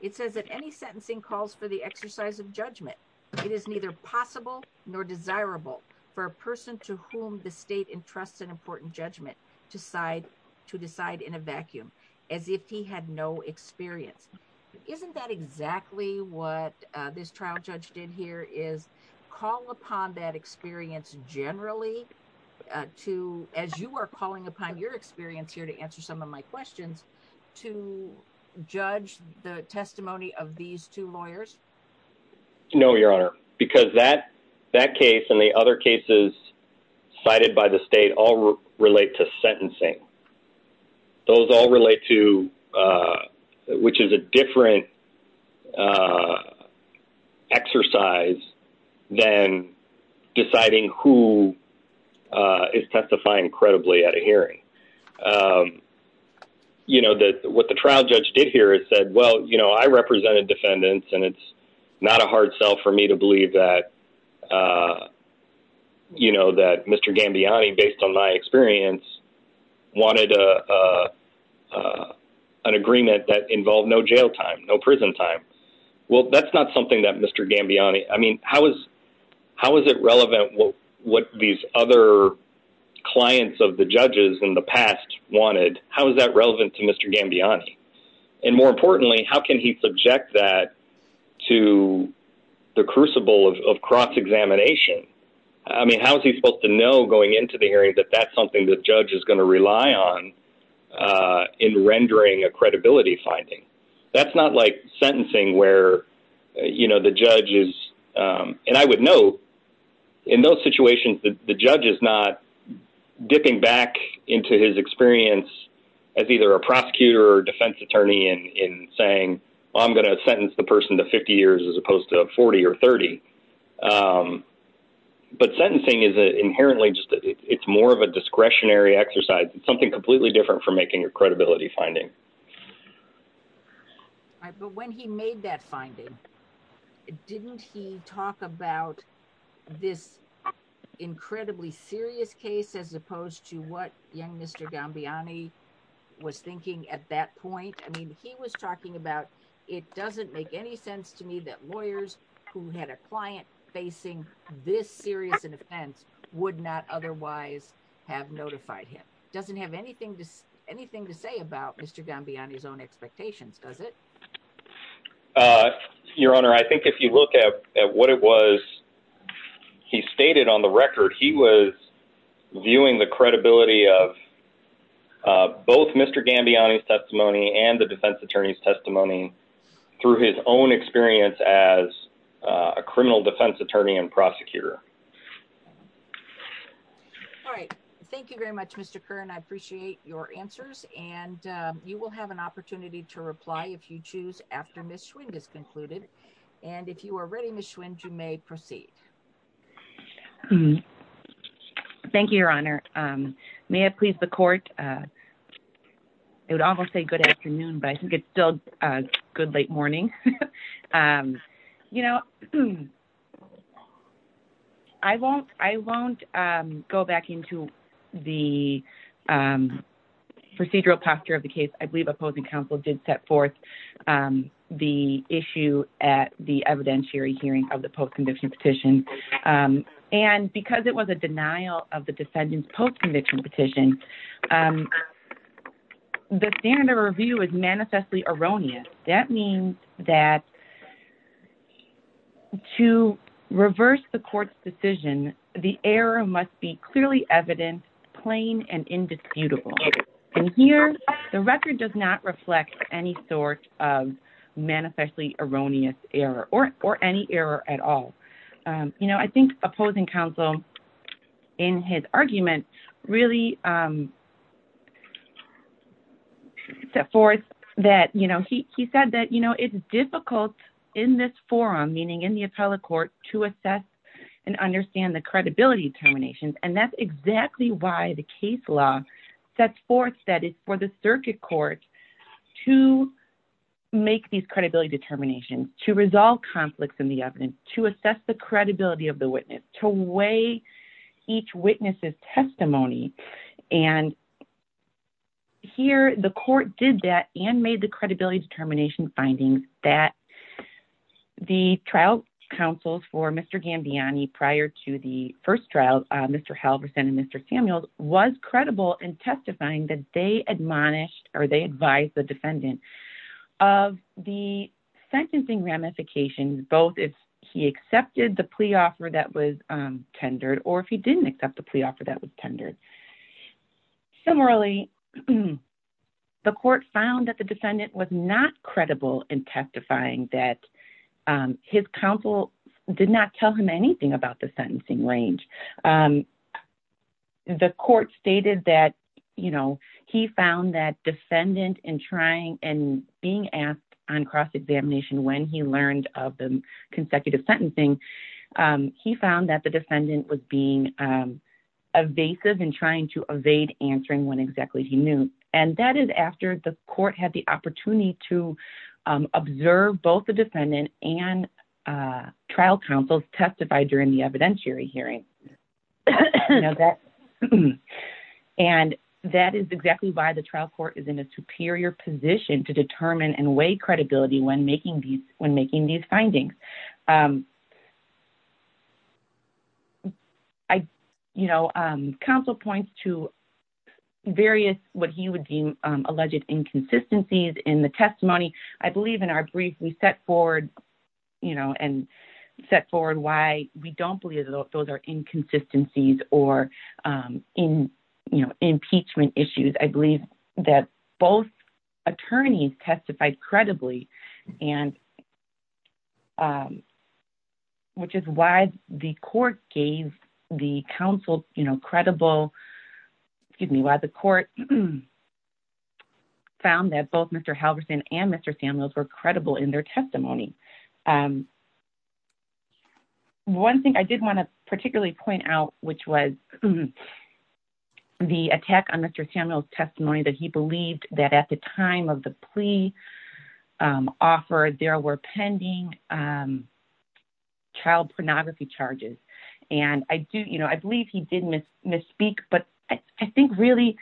which the trial judge decided that he would not accept the plea for the exercise of judgment. It is neither possible nor desirable for a person to whom the state entrusts an important judgment to decide in a vacuum, as if he had no experience. Isn't that exactly what this trial judge did here, is call upon that experience generally to, as you are calling upon your experience here to answer some of my questions, to judge the testimony of these two lawyers? No, Your Honor. Because that case and the other cases cited by the state all relate to sentencing. Those all relate to, which is a different exercise than deciding who is testifying credibly at a hearing. You know, what the trial judge did here is said, well, you know, I represented defendants and it's not a hard sell for me to believe that Mr. Gambiani, based on my experience, wanted an agreement that involved no jail time, no prison time. Well, that's not something that Mr. Gambiani, I mean, how is it relevant what these other clients of the judges in the past wanted? How is that relevant to Mr. Gambiani? And more importantly, how can he subject that to the crucible of cross-examination? I mean, how is he supposed to know going into the hearing that that's something the judge is going to rely on in rendering a credibility finding? That's not like sentencing where, you know, the judge is, and I would note, in those situations, the judge is not dipping back into his experience as either a prosecutor or defense attorney and saying, well, I'm going to sentence the person to 50 years as opposed to 40 or 30. But sentencing is inherently, it's more of a discretionary exercise, something completely different from making a credibility finding. But when he made that finding, didn't he talk about this incredibly serious case as opposed to what young Mr. Gambiani was thinking at that point? I mean, he was talking about, it doesn't make any sense to me that lawyers who had a client facing this serious case would be able to judge Mr. Gambiani's own expectations, does it? Your Honor, I think if you look at what it was he stated on the record, he was viewing the credibility of both Mr. Gambiani's testimony and the defense attorney's testimony through his own experience as a criminal defense attorney and prosecutor. All right. Thank you very much, Mr. Kern. I appreciate your answers. And you will have an opportunity to reply if you choose after Ms. Schwinn has concluded. And if you are ready, Ms. Schwinn, you may proceed. Thank you, Your Honor. May it please the Court, it would almost say good afternoon, but I think it's still good late morning. I won't go back into the procedural posture of the case. I believe opposing counsel did set forth the issue at the evidentiary hearing of the post-conviction petition. And because it was a denial of the evidence, that means that to reverse the Court's decision, the error must be clearly evident, plain, and indisputable. And here, the record does not reflect any sort of manifestly erroneous error or any error at all. You know, I think opposing counsel in his argument really set forth that, you know, he said that, you know, it's difficult in this forum, meaning in the appellate court, to assess and understand the credibility determinations. And that's exactly why the case law sets forth that it's for the circuit court to make these credibility determinations, to resolve conflicts in the evidence, to assess the credibility of the witness, to weigh each witness's determination findings, that the trial counsels for Mr. Gambiani prior to the first trial, Mr. Halverson and Mr. Samuels, was credible in testifying that they admonished or they advised the defendant of the sentencing ramifications both if he accepted the plea offer that was tendered or if he didn't accept the plea offer that was credible in testifying that his counsel did not tell him anything about the sentencing range. The court stated that, you know, he found that defendant in trying and being asked on cross-examination when he learned of the consecutive sentencing, he found that the defendant was being evasive and trying to evade answering when exactly he knew. And that is after the court had the opportunity to observe both the defendant and trial counsels testify during the evidentiary hearing. And that is exactly why the trial court is in a superior position to determine and weigh credibility when making these findings. You know, counsel points to various what he would deem alleged inconsistencies in the testimony. I believe in our brief we set forward, you know, and set forward why we don't believe those are inconsistencies or, you know, impeachment issues. I believe that both attorneys testified credibly and which is why the court gave the counsel, you know, credible, excuse me, why the court found that both Mr. Halverson and Mr. Samuels were credible in their testimony. One thing I did want to particularly point out, which was the attack on Mr. Samuels' testimony that he believed that at the time of the plea offer, there were pending child pornography charges. And I do, you know, I believe he did misspeak, but I think really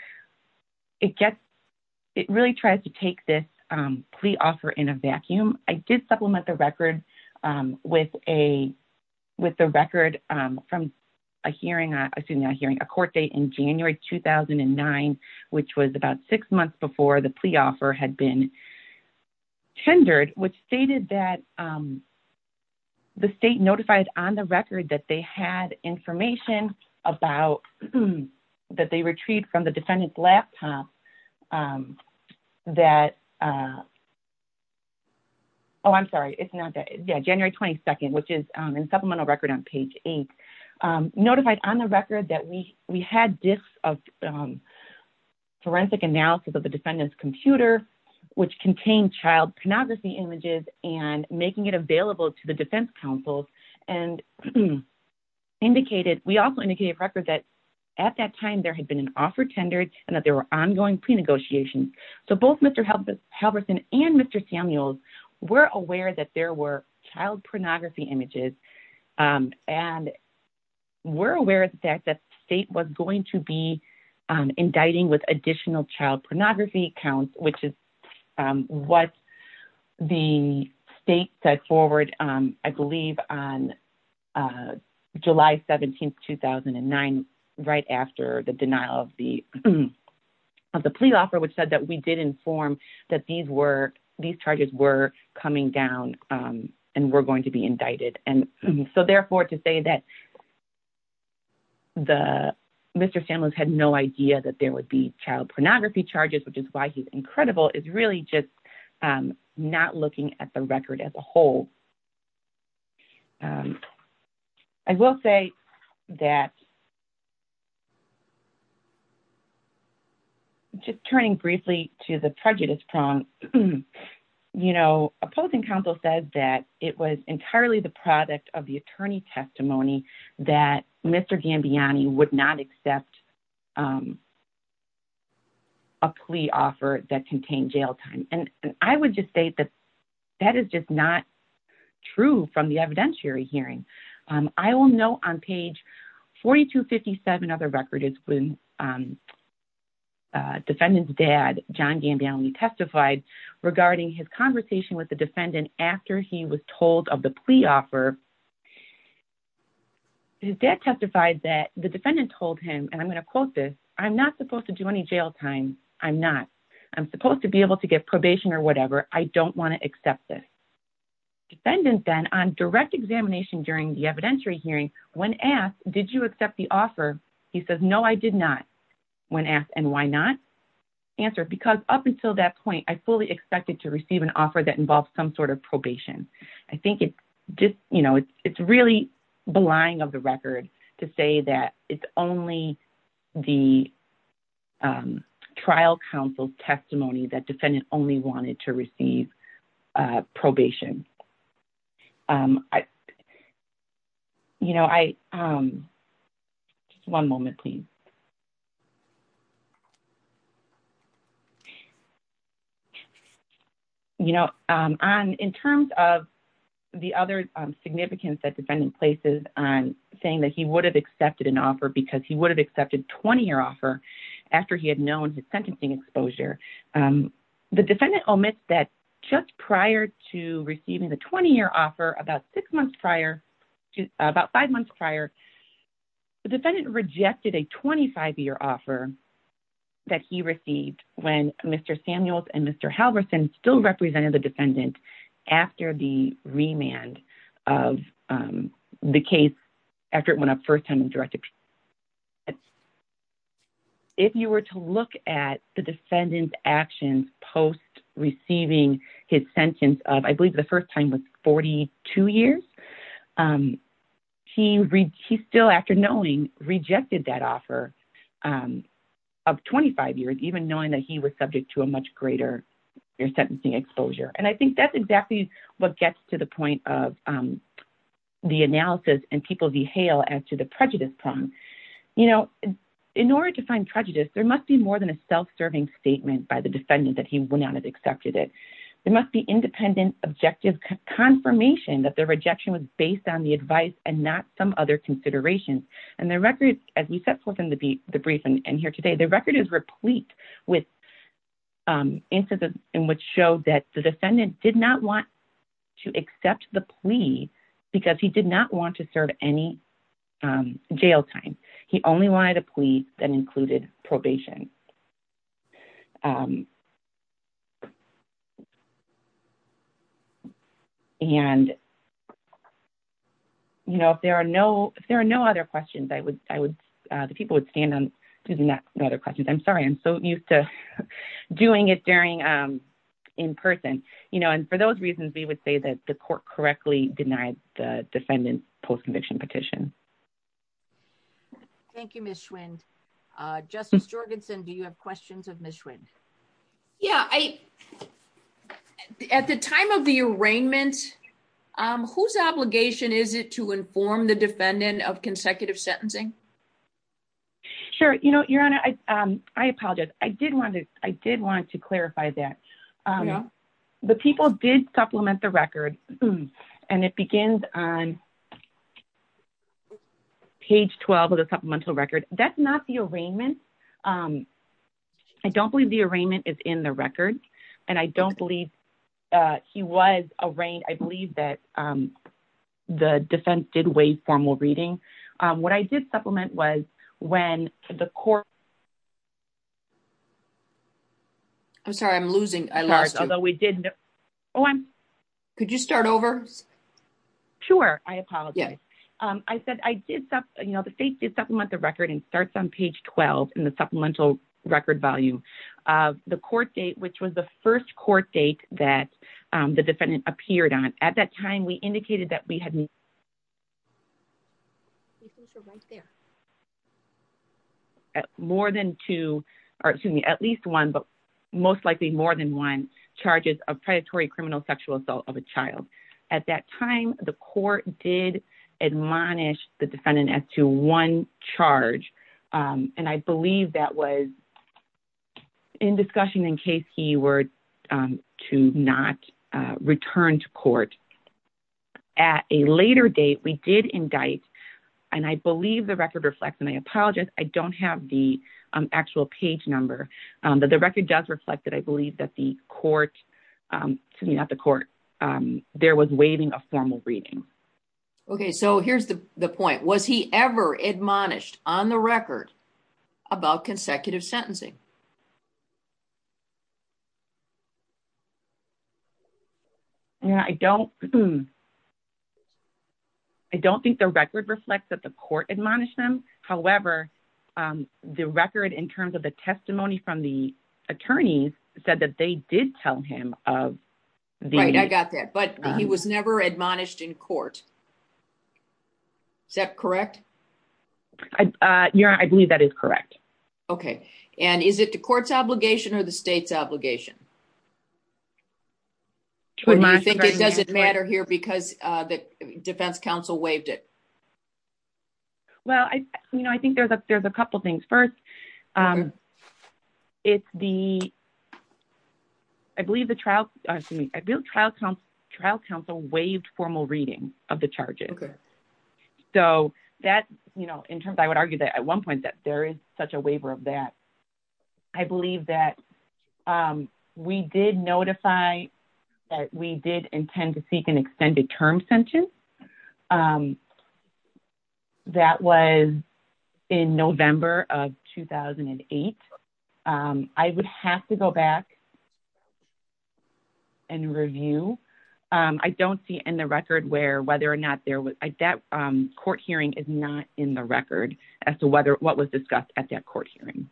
it gets, it really tries to take this plea offer in a vacuum. I did supplement the record with a record from a hearing, excuse me, a hearing, a court date in January 2009, which was about six months before the plea offer had been tendered, which stated that the state notified on the record that they had information about, that they retrieved from the defendant's laptop that, oh, I'm sorry, it's not that, yeah, January 22nd, which is in supplemental record on page eight, notified on the record that we had disks of forensic analysis of the defendant's computer, which contained child pornography images and making it available to the defense counsel and indicated, we also indicated a record that at that time there had been an offer tendered and that there were ongoing pre-negotiations. So both Mr. Halverson and Mr. Samuels were aware that there were child pornography images and were aware of the fact that the state was going to be indicting with additional child pornography counts, which is what the state set forward, I believe, on July 17th, 2009, right after the denial of the plea offer, which said that we did inform that these were, these charges were coming down and were going to be indicted. And so therefore to say that Mr. Samuels had no idea that there would be child pornography charges, which is why he's incredible, is really just not looking at the record as a whole. I will say that, just turning briefly to the prejudice prompt, opposing counsel said that it was entirely the product of the attorney's testimony that Mr. Gambiani would not accept a plea offer that contained jail time. And I would just say that that is just not true from the evidentiary hearing. I will note on page 4257 of the record is when defendant's dad, John Gambiani, testified regarding his conversation with the defendant after he was told of the plea offer. His dad testified that the defendant told him, and I'm going to quote this, I'm not supposed to do any jail time. I'm not. I'm supposed to be able to get probation or whatever. I don't want to accept this. Defendant then, on direct examination during the evidentiary hearing, when asked, did you accept the offer? He says, no, I did not. When asked, and why not? Answered, because up until that point, I fully expected to receive an offer that involved some sort of probation. I think it's just, you know, it's really belying of the record to say that it's only the trial counsel's testimony that defendant only wanted to receive probation. You know, I one moment, please. You know, in terms of the other significance that defendant places on saying that he would have accepted an offer because he would have accepted 20-year offer after he had known his sentencing exposure, the defendant omits that just prior to receiving the 20-year offer, about six months prior, about five months prior, the defendant rejected a 25-year offer that he received when Mr. Samuels and Mr. Halverson still represented the defendant after the remand of the case, after it went up first time in direct If you were to look at the defendant's actions post-receiving his he still, after knowing, rejected that offer of 25 years, even knowing that he was subject to a much greater sentencing exposure. And I think that's exactly what gets to the point of the analysis, and people behail as to the prejudice problem. You know, in order to find prejudice, there must be more than a self-serving statement by the defendant that he would not have accepted it. There must be independent objective confirmation that the rejection was based on the advice and not some other considerations. And the record, as we set forth in the brief and here today, the record is replete with instances in which show that the defendant did not want to accept the plea because he did not want to serve any jail time. He only wanted a plea that included probation. And, you know, if there are no other questions, I would, the people would stand up and ask no other questions. I'm sorry, I'm so used to doing it during, in person. You know, and for those reasons, we would say that the court correctly denied the defendant's post-conviction petition. Thank you, Ms. Schwinn. Justice Jorgenson, do you have questions of Ms. Schwinn? Yeah. At the time of the arraignment, whose obligation is it to inform the defendant of consecutive sentencing? Sure. You know, Your Honor, I apologize. I did want to clarify that. The people did supplement the record, and it begins on page 12 of the supplemental record. That's not the arraignment. I don't believe the arraignment is in the record, and I don't believe he was arraigned. I believe that the defense did waive formal reading. What I did supplement was when the court. I'm sorry, I'm losing. Could you start over? Sure. I apologize. I said I did supplement the record, and it starts on page 12 in the supplemental record value. The court date, which was the first court date that the defendant appeared on, at that time, the court did admonish the defendant as to one charge, and I believe that was in discussion in case he were to not return to court. At a later date, we did indict, and I believe the record reflects my apology, I don't have the actual page number, but the record does reflect that I believe that the court there was waiving a formal reading. Okay, so here's the point. Was he ever admonished on the record about consecutive sentencing? I don't think the record reflects that the court admonished him, however, the record in terms of the testimony from the attorneys said that they did tell him. Right, I got that, but he was never admonished in court. Is that correct? I believe that is correct. Okay, and is it the better here because the defense counsel waived it? Well, I think there's a couple things. First, I believe the trial counsel waived formal reading of the charges. So, I would argue that at one point there is such a waiver of that. I believe that we did notify that we did intend to seek an extended term sentence. That was in November of 2008. I would have to go back and review. I don't see in the record where whether or not there was an extended term sentence, but that court hearing is not in the record as to what was discussed at that court hearing.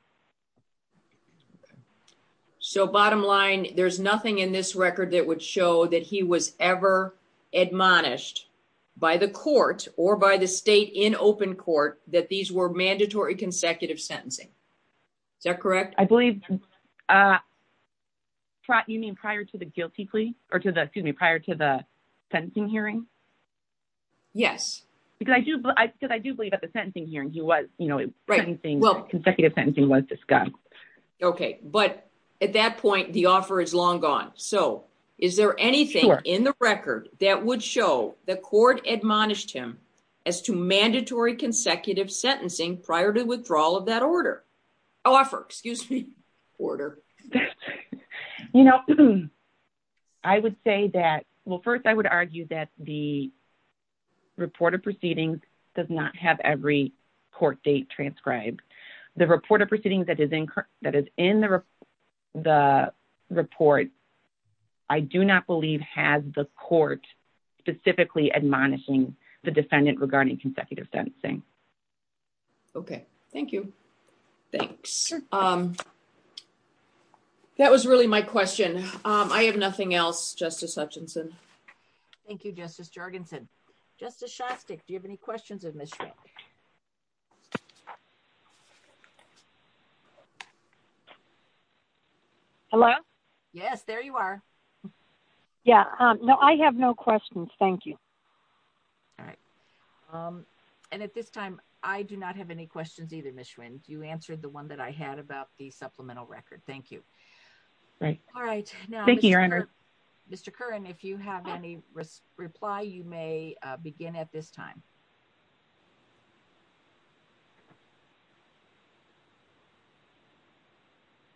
So, bottom line, there's nothing in this record that would show that he was ever admonished by the court or by the state in open court that these were mandatory consecutive sentencing. Is that correct? I believe you mean prior to the guilty plea? Excuse me, prior to the sentencing hearing? Yes. Because I do believe at the sentencing hearing consecutive sentencing was discussed. Okay, but at that point the offer is long gone. So, is there anything in the record that would show the court admonished him as to mandatory consecutive sentencing prior to withdrawal of that order? Offer, excuse me, order. I would say that, well, first I would argue that the reported proceedings does not have every court date transcribed. The reported proceedings that is in the report, I do not believe has the court specifically admonishing the defendant regarding consecutive sentencing. Okay, thank you. Thanks. That was really my question. I have nothing else, Justice Hutchinson. Thank you, Justice Jorgensen. Justice Shostak, do you have any questions of Ms. Shostak? Hello? Yes, there you are. No, I have no questions. Thank you. And at this time, I do not have any questions either, Ms. Schwin. You answered the one that I had about the supplemental record. Thank you. Thank you, Your Honor. Mr. Kern, if you have any reply, you may begin at this time.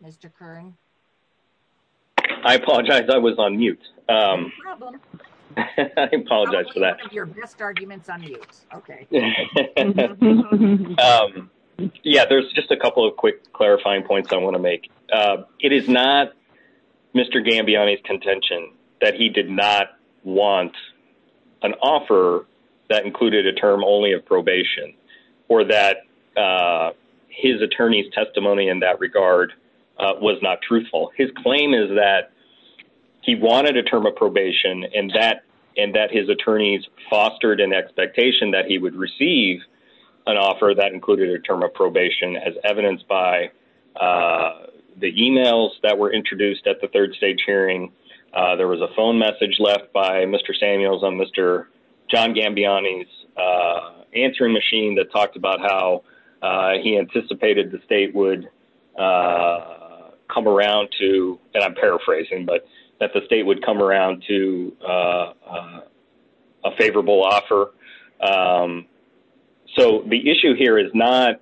Mr. Kern? I apologize. I was on mute. No problem. I apologize for that. Your best argument is on mute. Okay. Yes, there is just a couple of quick clarifying points I want to make. It is not Mr. Kern's claim that he did not want an offer that included a term only of probation or that his attorney's testimony in that regard was not truthful. His claim is that he wanted a term of probation and that his attorneys fostered an expectation that he would receive an offer that included a term of probation as evidenced by the e-mails that were introduced at the third stage hearing. There was a phone message left by Mr. Samuels on Mr. John Gambiani's answering machine that talked about how he anticipated the state would come around to, and I'm paraphrasing, but that the state would come around to a favorable offer. So the issue here is not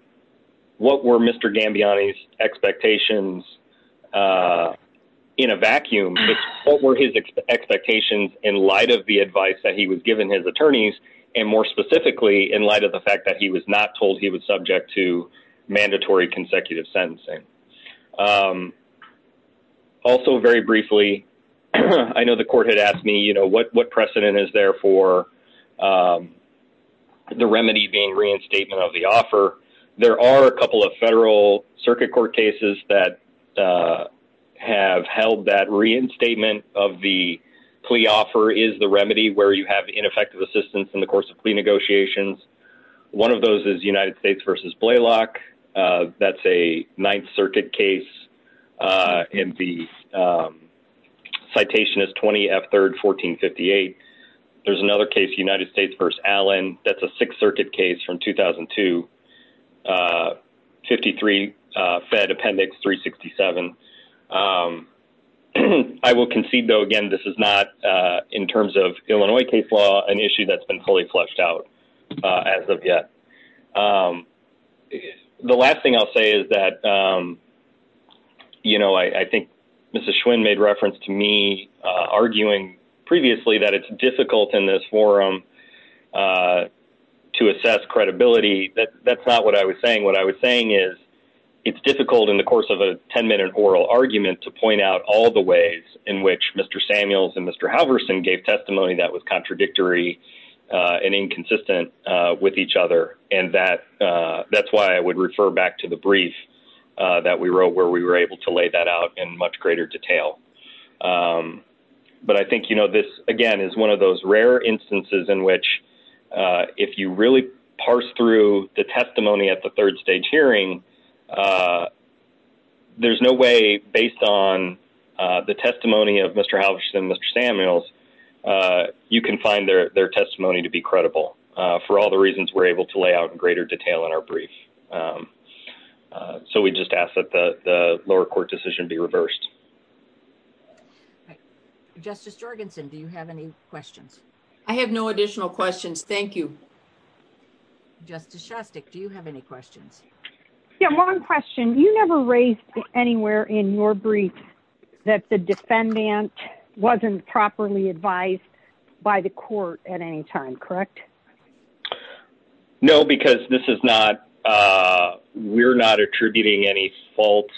what were Mr. Gambiani's expectations in a vacuum, but what were his expectations in light of the advice that he was given his attorneys and more specifically in light of the fact that he was not told he was subject to mandatory consecutive sentencing. Also very briefly, I know the court had asked me what precedent is there for the remedy being reinstatement of the offer. There are a couple of federal circuit court cases that have held that reinstatement of the plea offer is the remedy where you have ineffective assistance in the course of plea negotiations. One of those is United States v. Blaylock. That's a Ninth Circuit case, and the citation is 20F3rd 1458. There's another case, United States v. Allen. That's a Sixth Circuit case from 2002, 53 Fed Appendix 367. I will concede, though, again, this is not, in terms of Illinois case law, an issue that's been fully fleshed out as of yet. The last thing I'll say is that I think Mr. Schwinn made reference to me arguing previously that it's difficult in this forum to assess credibility. That's not what I was saying. What I was saying is it's difficult in the course of a 10-minute oral argument to point out all the ways in which Mr. Samuels and Mr. Halverson gave testimony that was contradictory and inconsistent with each other. That's why I would refer back to the brief that we wrote where we were able to lay that out in much greater detail. But I think this, again, is one of those rare instances in which if you really parse through the testimony at the third stage hearing, there's no way, based on the testimony of Mr. Halverson and Mr. Samuels, you can find their testimony to be credible for all the reasons we're able to lay out in greater detail in our brief. So we just ask that the lower court decision be reversed. Justice Jorgensen, do you have any questions? I have no additional questions. Thank you. Justice Shostak, do you have any questions? Yeah, one question. You never raised anywhere in your brief that the defendant wasn't properly advised by the court at any time, correct? No, because we're not attributing any faults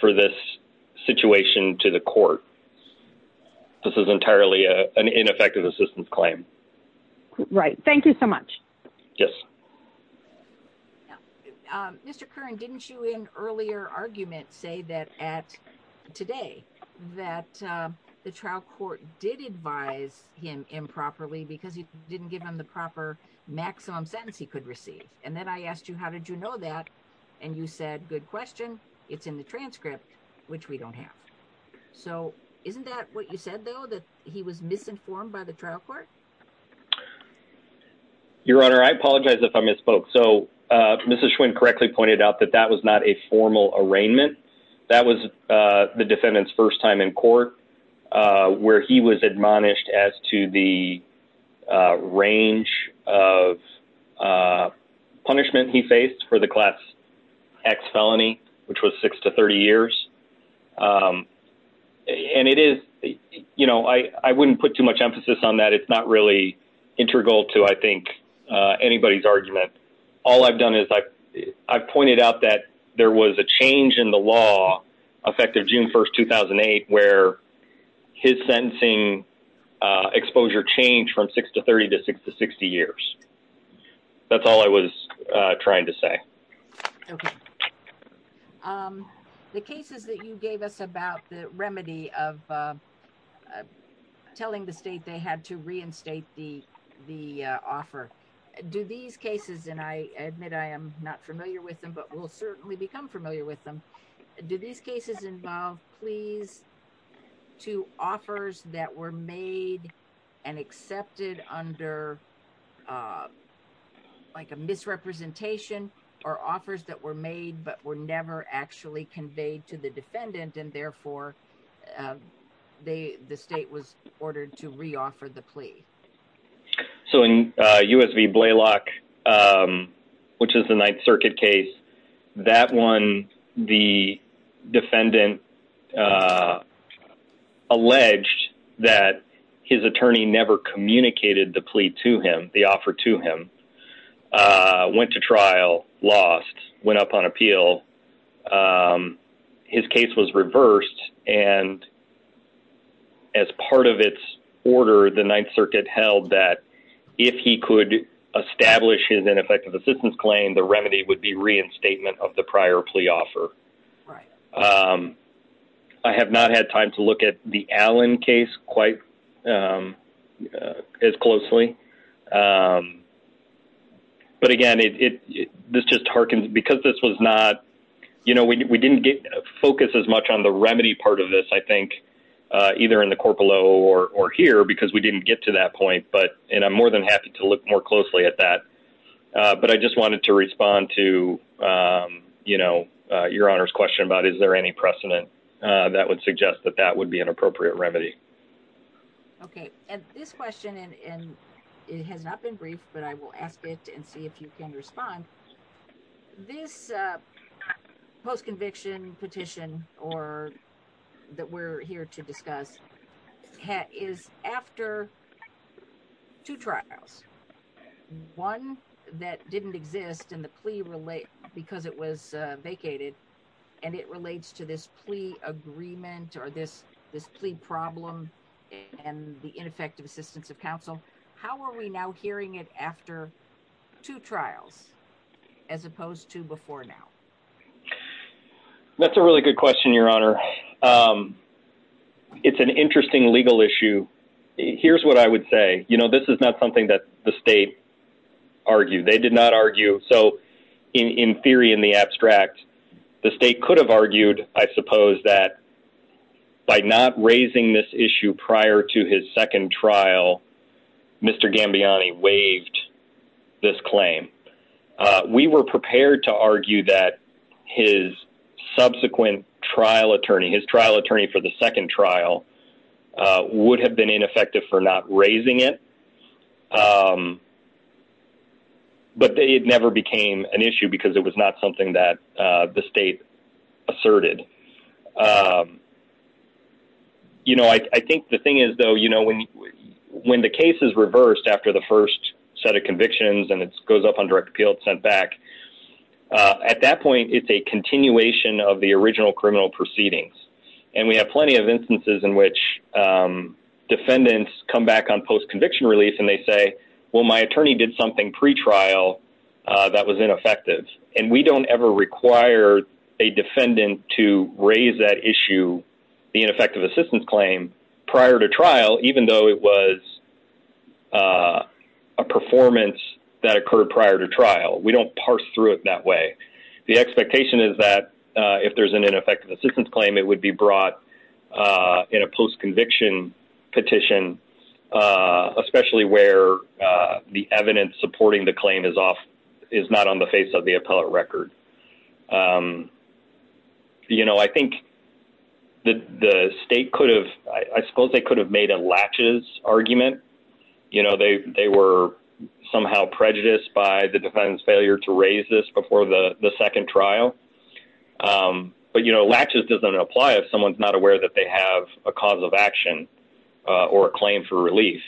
for this situation to the court. This is entirely an ineffective assistance claim. Right. Thank you so much. Yes. Mr. Curran, didn't you in earlier argument say that at today that the trial court did advise him improperly because he didn't give him the proper maximum sentence he could receive? And then I asked you, how did you know that? And you said, good question, it's in the transcript, which we don't have. So isn't that what you said, though, that he was misinformed by the trial court? Your Honor, I apologize if I misspoke. So Mrs. Schwinn correctly pointed out that that was not a formal arraignment. That was the defendant's first time in court where he was admonished as to the range of punishment he faced for the class X felony, which was six to 30 years. And it is, you know, I wouldn't put too much emphasis on that. It's not really integral to, I think, anybody's argument. All I've done is I've pointed out that there was a change in the law effective June 1st, 2008, where his sentencing was extended from six to 30 to six to 60 years. That's all I was trying to say. The cases that you gave us about the remedy of telling the state they had to reinstate the offer, do these cases, and I admit I am not familiar with them, but were they made and accepted under like a misrepresentation or offers that were made but were never actually conveyed to the defendant and therefore the state was ordered to reoffer the plea? So in US v. Blaylock, which is the Ninth Circuit case, that one, the defendant alleged that his attorney never communicated the plea to him, the offer to him, went to trial, lost, went up on appeal. His case was reversed and as part of its order, the Ninth Circuit held that if he could establish his ineffective assistance claim, the remedy would be reinstatement of the prior plea offer. I have not had time to look at the Allen case quite as closely. But again, this just harkens, because this was not, you know, we didn't focus as much on the remedy part of this, I think, either in the Corpolo or here, because we didn't get to that point, and I'm more than happy to look more closely at that. But I just wanted to respond to, you know, your Honor's question about is there any precedent that would suggest that that would be an appropriate remedy. Okay. And this question, and it has not been briefed, but I will ask it and see if you can respond. This post-conviction petition that we're here to discuss is after two trials. One that didn't exist in the plea because it was vacated, and it relates to this plea agreement or this plea problem and the ineffective assistance of counsel. How are we now hearing it after two trials as opposed to before now? That's a really good question, Your Honor. It's an interesting legal issue. Here's what I would say. You know, this is not something that the state argued. They did not argue. So in theory, in the abstract, the state could have argued, I suppose, that by not raising this issue prior to his second trial, Mr. Gambiani waived this claim. We were prepared to argue that his subsequent trial attorney, his trial attorney for the second trial, would have been ineffective for not raising it. But it never became an issue because it was not something that the state asserted. You know, I think the thing is, though, when the case is reversed after the first set of convictions and it goes up on direct appeal and sent back, at that point, it's a continuation of the original criminal proceedings. And we have plenty of cases where the state has said, okay, well, my attorney did something pretrial that was ineffective. And we don't ever require a defendant to raise that issue, the ineffective assistance claim, prior to trial, even though it was a performance that occurred prior to trial. We don't parse through it that way. The expectation is that if there's an ineffective assistance claim, it would be brought in a post-conviction petition, especially where the evidence supporting the claim is not on the face of the appellate record. You know, I think the state could have, I suppose they could have made a latches argument. You know, they were somehow prejudiced by the defendant's failure to raise this before the second trial. But, you know, latches doesn't apply if someone's not aware that they have a cause of action or a claim for relief.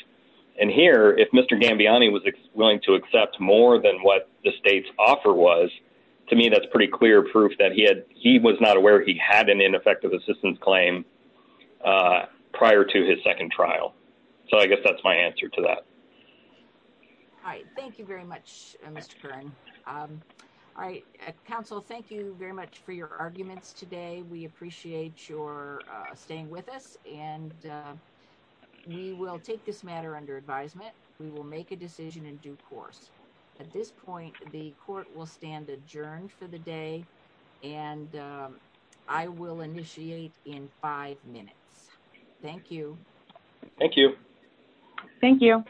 And here, if Mr. Gambiani was willing to accept more than what the state's offer was, to me, that's pretty clear proof that he was not aware he had an ineffective assistance claim prior to his second trial. So I guess that's my answer to that. Hi. Thank you very much, Mr. Kern. All right. Council, thank you very much for your arguments today. We appreciate your staying with us. And we will take this matter under advisement. We will make a decision in due course. At this point, the court will stand adjourned for the day. And I will see you next time.